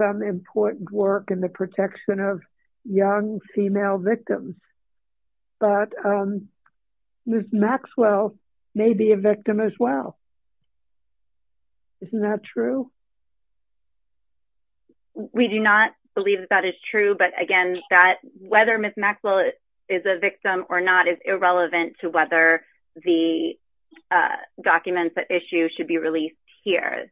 some important work in the protection of young female victims. But Ms. Maxwell may be a victim as well. Isn't that true? We do not believe that that is true. But again, whether Ms. Maxwell is a victim or not is irrelevant to whether the documents at issue should be released here.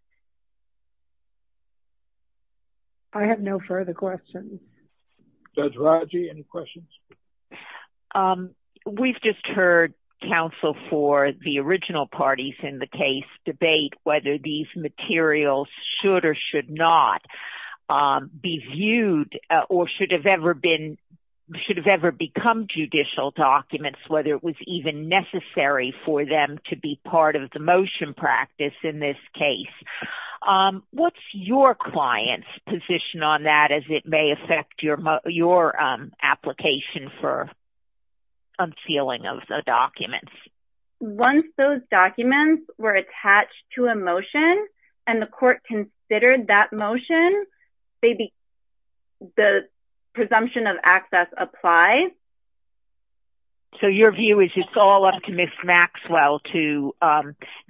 I have no further questions. Judge Rodger, any questions? We've just heard counsel for the original parties in the case debate whether these materials should or should not be viewed or should have ever become judicial documents, whether it was even necessary for them to be part of the motion practice in this case. What's your client's position on that as it may affect your application for unsealing of the documents? Once those documents were attached to a motion and the court considered that motion, the presumption of access applies. So your view is it's all up to Ms. Maxwell to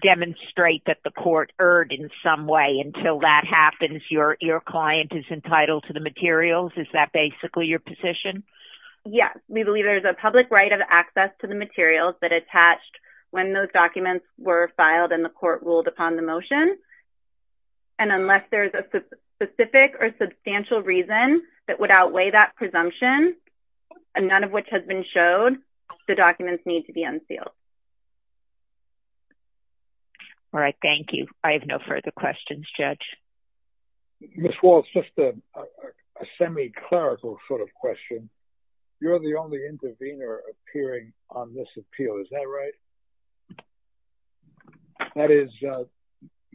demonstrate that the court erred in some way. Until that happens, your client is entitled to the materials. Is that basically your position? Yes. We believe there is a public right of access to the materials that attached when those documents were filed and the court ruled upon the motion. Unless there is a specific or substantial reason that would outweigh that presumption, none of which has been shown, the documents need to be unsealed. All right. Thank you. I have no further questions, Judge. Ms. Walsh, just a semi-clerical sort of question. You're the only intervener appearing on this appeal. Is that right? That is correct.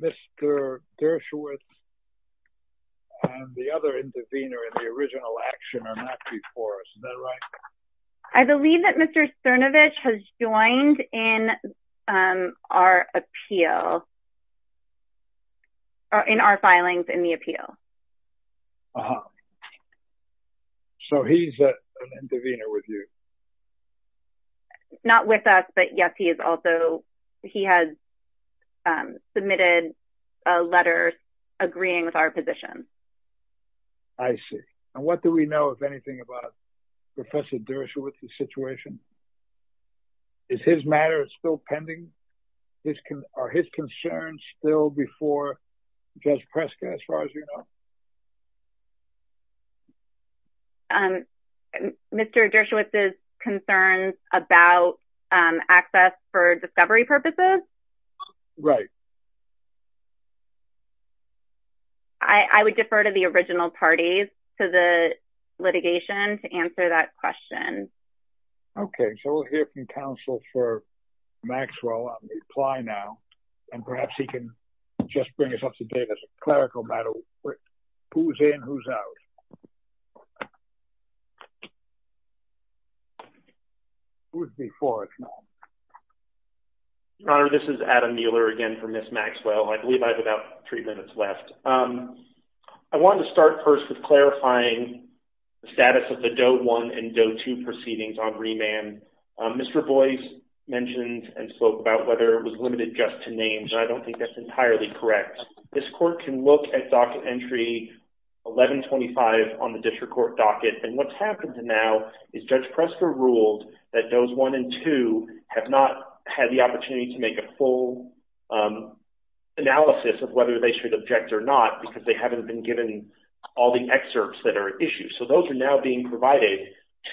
Mr. Dershowitz and the other intervener in the original action are not before us. Is that right? I believe that Mr. Cernovich has joined in our appeal or in our filings in the appeal. Uh-huh. So he's an intervener with you? Not with us, but yes, he is also he has submitted a letter agreeing with our position. I see. And what do we know, if anything, about Professor Dershowitz's situation? Is his matter still pending? Are his concerns still before Judge Prescott, as far as you know? Mr. Dershowitz's concerns about access for discovery purposes? Right. I would defer to the original parties for the litigation to answer that question. Okay. So we'll hear from counsel for Maxwell. I'll reply now. And perhaps he can just bring us up to date as a clerical matter. Who's in, who's out? Who's before us now? Your Honor, this is Adam Mueller again from Ms. Maxwell. I believe I have about three minutes left. I want to start first with clarifying the status of the Doe 1 and Doe 2 proceedings on remand. Mr. Boyce mentioned and spoke about whether it was limited just to names. I don't think that's entirely correct. This court can look at docket entry 1125 on the district court docket. And what's happened now is Judge Prescott ruled that Does 1 and 2 have not had the opportunity to make a full analysis of whether they should object or not because they haven't been given all the excerpts that are issued. So those are now being provided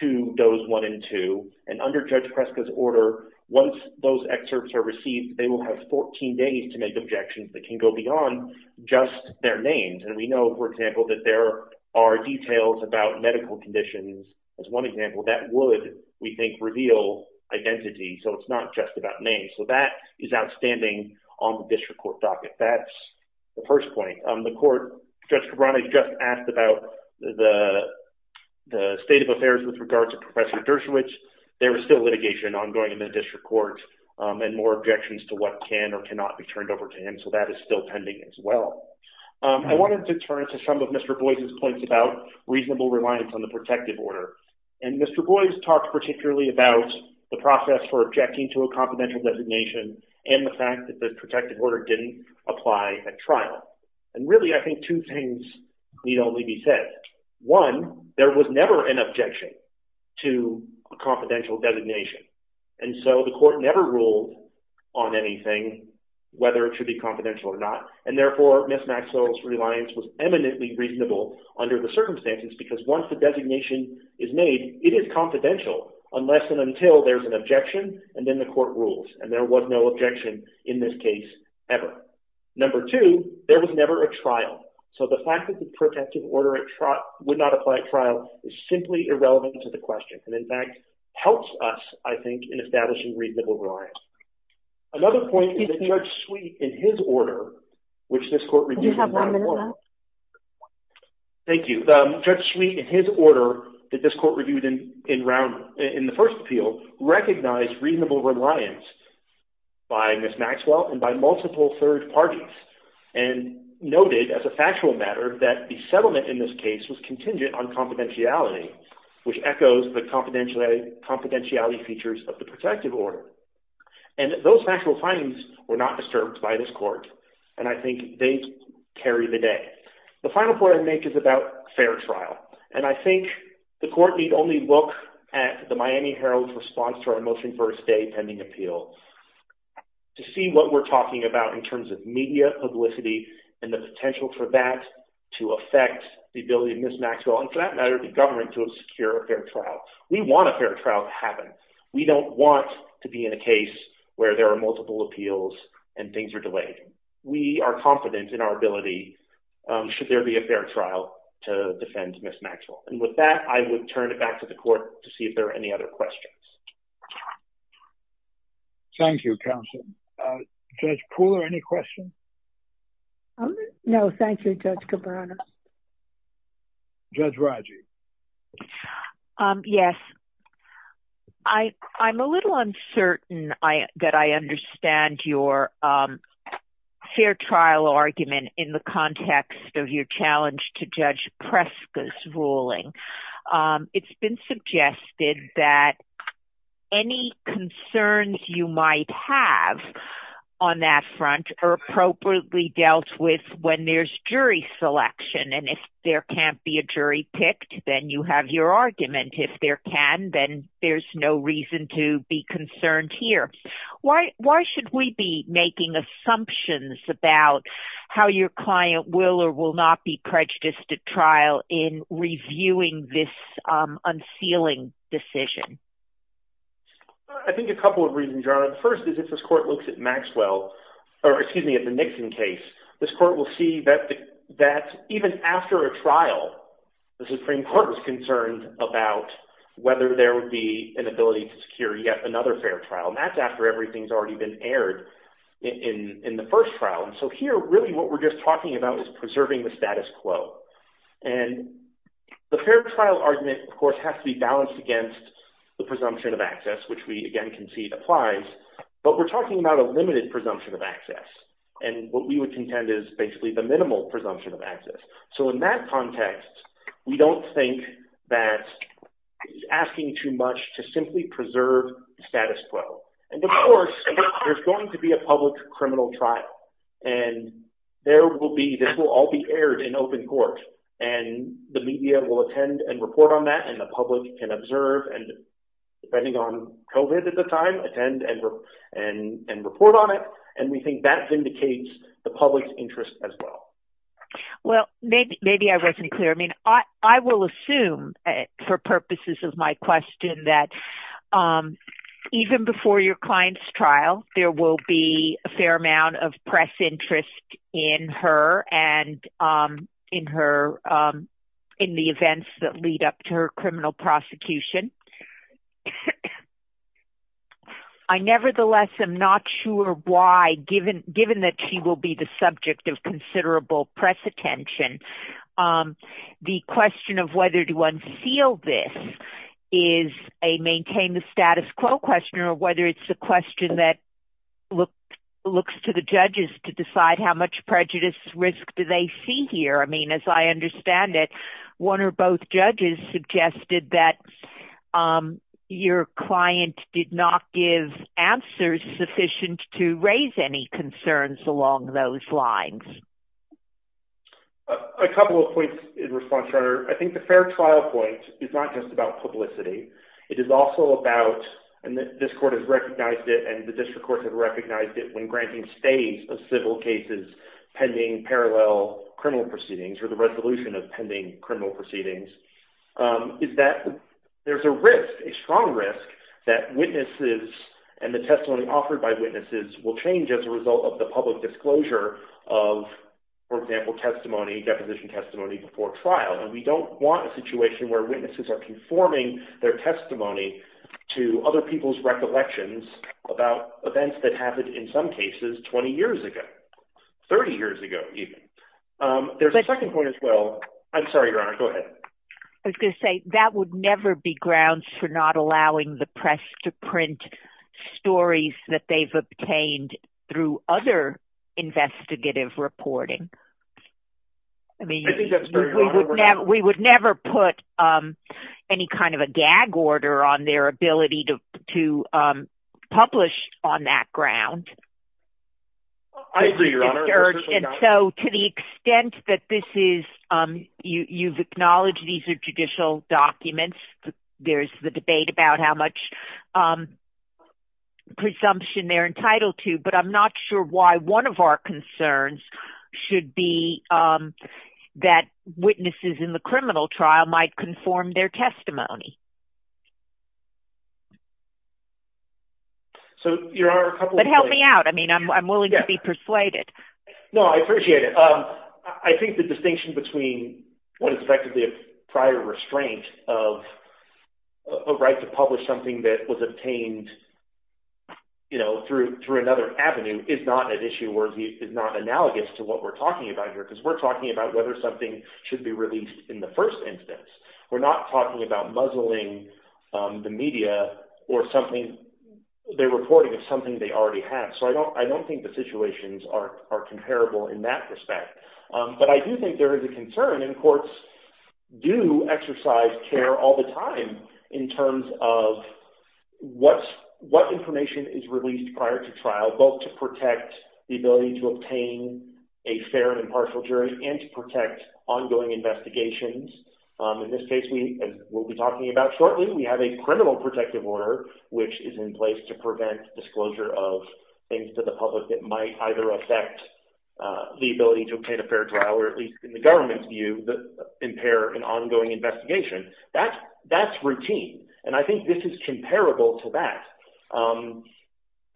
to those 1 and 2. And under Judge Prescott's order, once those excerpts are received, they will have 14 days to make objections that can go beyond just their names. And we know, for example, that there are details about medical conditions. As one example, that would, we think, reveal identity. So it's not just about names. So that is outstanding on the district court docket. That's the first point. The court, Judge Cabrani, just asked about the the state of affairs with regards to Professor Dershowitz. There is still litigation ongoing in the district court and more objections to what can or cannot be turned over to him. So that is still pending as well. I wanted to turn to some of Mr. Boyce's points about reasonable reliance on the protective order. And Mr. Boyce talked particularly about the process for objecting to a confidential designation and the fact that the protective order didn't apply at trial. And really, I think two things need only be said. One, there was never an objection to confidential designation. And so the court never ruled on anything, whether it should be confidential or not. And therefore, Ms. Maxwell's reliance was eminently reasonable under the circumstances because once the designation is made, it is confidential unless and until there is an objection and then the court rules. And there was no objection in this case ever. Number two, there was never a trial. So the fact that the protective order would not apply at trial is simply irrelevant to the question. And in fact, helps us, I think, in establishing reasonable reliance. Another point is that Judge Sweet, in his order, which this court reviewed in round one. Thank you. Judge Sweet, in his order that this court reviewed in round, in the first appeal, recognized reasonable reliance by Ms. Maxwell and by multiple third parties. And noted as a factual matter that the settlement in this case was contingent on confidentiality, which echoes the confidentiality features of the protective order. And those factual findings were not disturbed by this court. And I think they carry the day. The final point I make is about fair trial. And I think the court need only look at the Miami Herald's response to our motion for a state pending appeal. To see what we're talking about in terms of media publicity and the potential for that to affect the ability of Ms. Maxwell, and for that matter, the government, to secure a fair trial. We want a fair trial to happen. We don't want to be in a case where there are multiple appeals and things are delayed. We are confident in our ability should there be a fair trial to defend Ms. Maxwell. And with that, I would turn it back to the court to see if there are any other questions. Thank you, counsel. Judge Pooler, any questions? No, thank you, Judge Cabrera. Judge Rajiv. Yes. I'm a little uncertain that I understand your fair trial argument in the context of your challenge to Judge Preska's ruling. It's been suggested that any concerns you might have on that front are appropriately dealt with when there's jury selection. And if there can't be a jury picked, then you have your argument. If there can, then there's no reason to be concerned here. Why should we be making assumptions about how your client will or will not be prejudiced at trial in reviewing this unsealing decision? I think a couple of reasons are, the first is if this court looks at Maxwell, or excuse me, at the Nixon case, this court will see that even after a trial, the Supreme Court was concerned about whether there would be an ability to secure yet another fair trial. And that's after everything's already been aired in the first trial. And so here, really, what we're just talking about is preserving the status quo. And the fair trial argument, of course, has to be balanced against the presumption of access, which we, again, can see applies. But we're talking about a limited presumption of access. And what we would contend is basically the minimal presumption of access. So in that context, we don't think that it's asking too much to simply preserve status quo. And of course, there's going to be a public criminal trial. And there will be, this will all be aired in open court. And the media will attend and report on that, and the public can observe and depending on COVID at the time, attend and report on it. And we think that vindicates the public's interest as well. Well, maybe I wasn't clear. I mean, I will assume for purposes of my question that even before your client's trial, there will be a fair amount of press interest in her and in her, in the events that lead up to her criminal prosecution. I nevertheless am not sure why, given that she will be the subject of considerable press attention, the question of whether to unseal this is a maintain the status quo question or whether it's the question that looks to the judges to decide how much prejudice risk do they see here? I mean, as I understand it, one or both judges suggested that your client did not give answers sufficient to raise any concerns along those lines. A couple of points in response, Your Honor. I think the fair trial point is not just about publicity. It is also about and this court has recognized it and the district court has recognized it when granting states of civil cases pending parallel criminal proceedings or the resolution of pending criminal proceedings is that there's a risk, a strong risk that witnesses and the testimony offered by witnesses will change as a result of the public disclosure of, for example, testimony, deposition testimony before trial. And we don't want a situation where witnesses are conforming their testimony to other people's recollections about events that happened in some cases 20 years ago, 30 years ago even. There's a second point as well. I'm sorry, Your Honor. Go ahead. I was going to say that that would never be grounds for not allowing the press to print stories that they've obtained through other investigative reporting. I mean, we would never put any kind of a gag order on their ability to publish on that ground. So to the extent that this is you've acknowledged these are judicial documents, there's the debate about how much presumption they're entitled to. But I'm not sure why one of our concerns should be that witnesses in the criminal trial might conform their testimony. But help me out. I mean, I'm willing to be persuaded. No, I appreciate it. I think the distinction between what is effectively a prior restraint of a right to publish something that was obtained through another avenue is not an issue where it's not analogous to what we're talking about here because we're talking about whether something should be released in the first instance. We're not talking about muzzling the media or something they're reporting as something they already have. So I don't think the situations are comparable in that respect. But I do think there is a concern and courts do exercise care all the time in terms of what information is released prior to trial both to protect the ability to obtain a fair and impartial jury and to protect ongoing investigations. In this case, we'll be talking about shortly, we have a criminal protective order which is in place to prevent disclosure of things to the public that might either affect the ability to obtain a fair trial or at least in the government's view impair an ongoing investigation. That's routine. And I think this is comparable to that.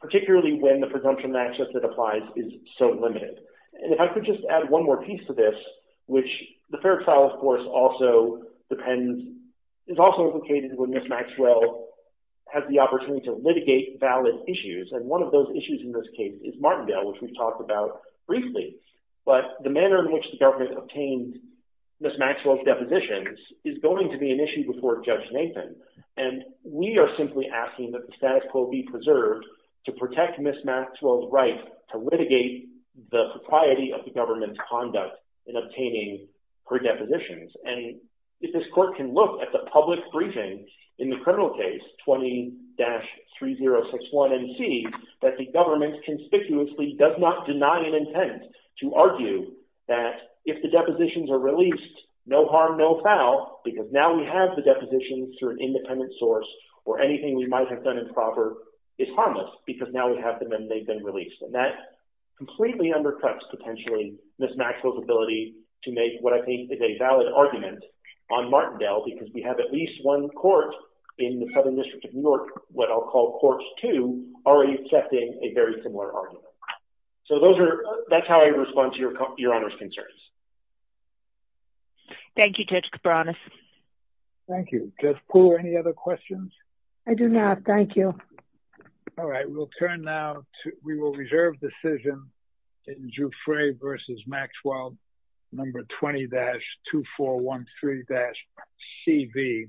Particularly when the presumption of access that applies is so limited. And if I could just add one more piece to this, which the fair trial of course also depends, is also located when Ms. Maxwell has the opportunity to litigate valid issues. And one of those issues in this case is Martindale, which we've talked about briefly. But the manner in which the government obtained Ms. Maxwell's depositions is going to be an issue before Judge Nathan. And we are simply asking that the status quo be preserved to protect Ms. Maxwell's right to litigate the propriety of the government's conduct in obtaining her depositions. And if this court can look at the public briefing in the criminal case 20-3061MC, that the government conspicuously does not deny an intent to argue that if the depositions are released, no harm, no foul, because now we have the depositions through an independent source, or anything we might have done improper, is harmless, because now we have them and they've been released. And that completely undercuts potentially Ms. Maxwell's ability to make what I think is a valid argument on Martindale, because we have at least one court in the federal district of New York, what I'll call courts two, already accepting a very similar argument. So that's how I respond to your Honor's concerns. Thank you, Judge Cabranes. Thank you. Judge Poole, any other questions? I do not, thank you. All right, we'll turn now to, we will reserve decision in Jouffre versus Maxwell, number 20-2413MC.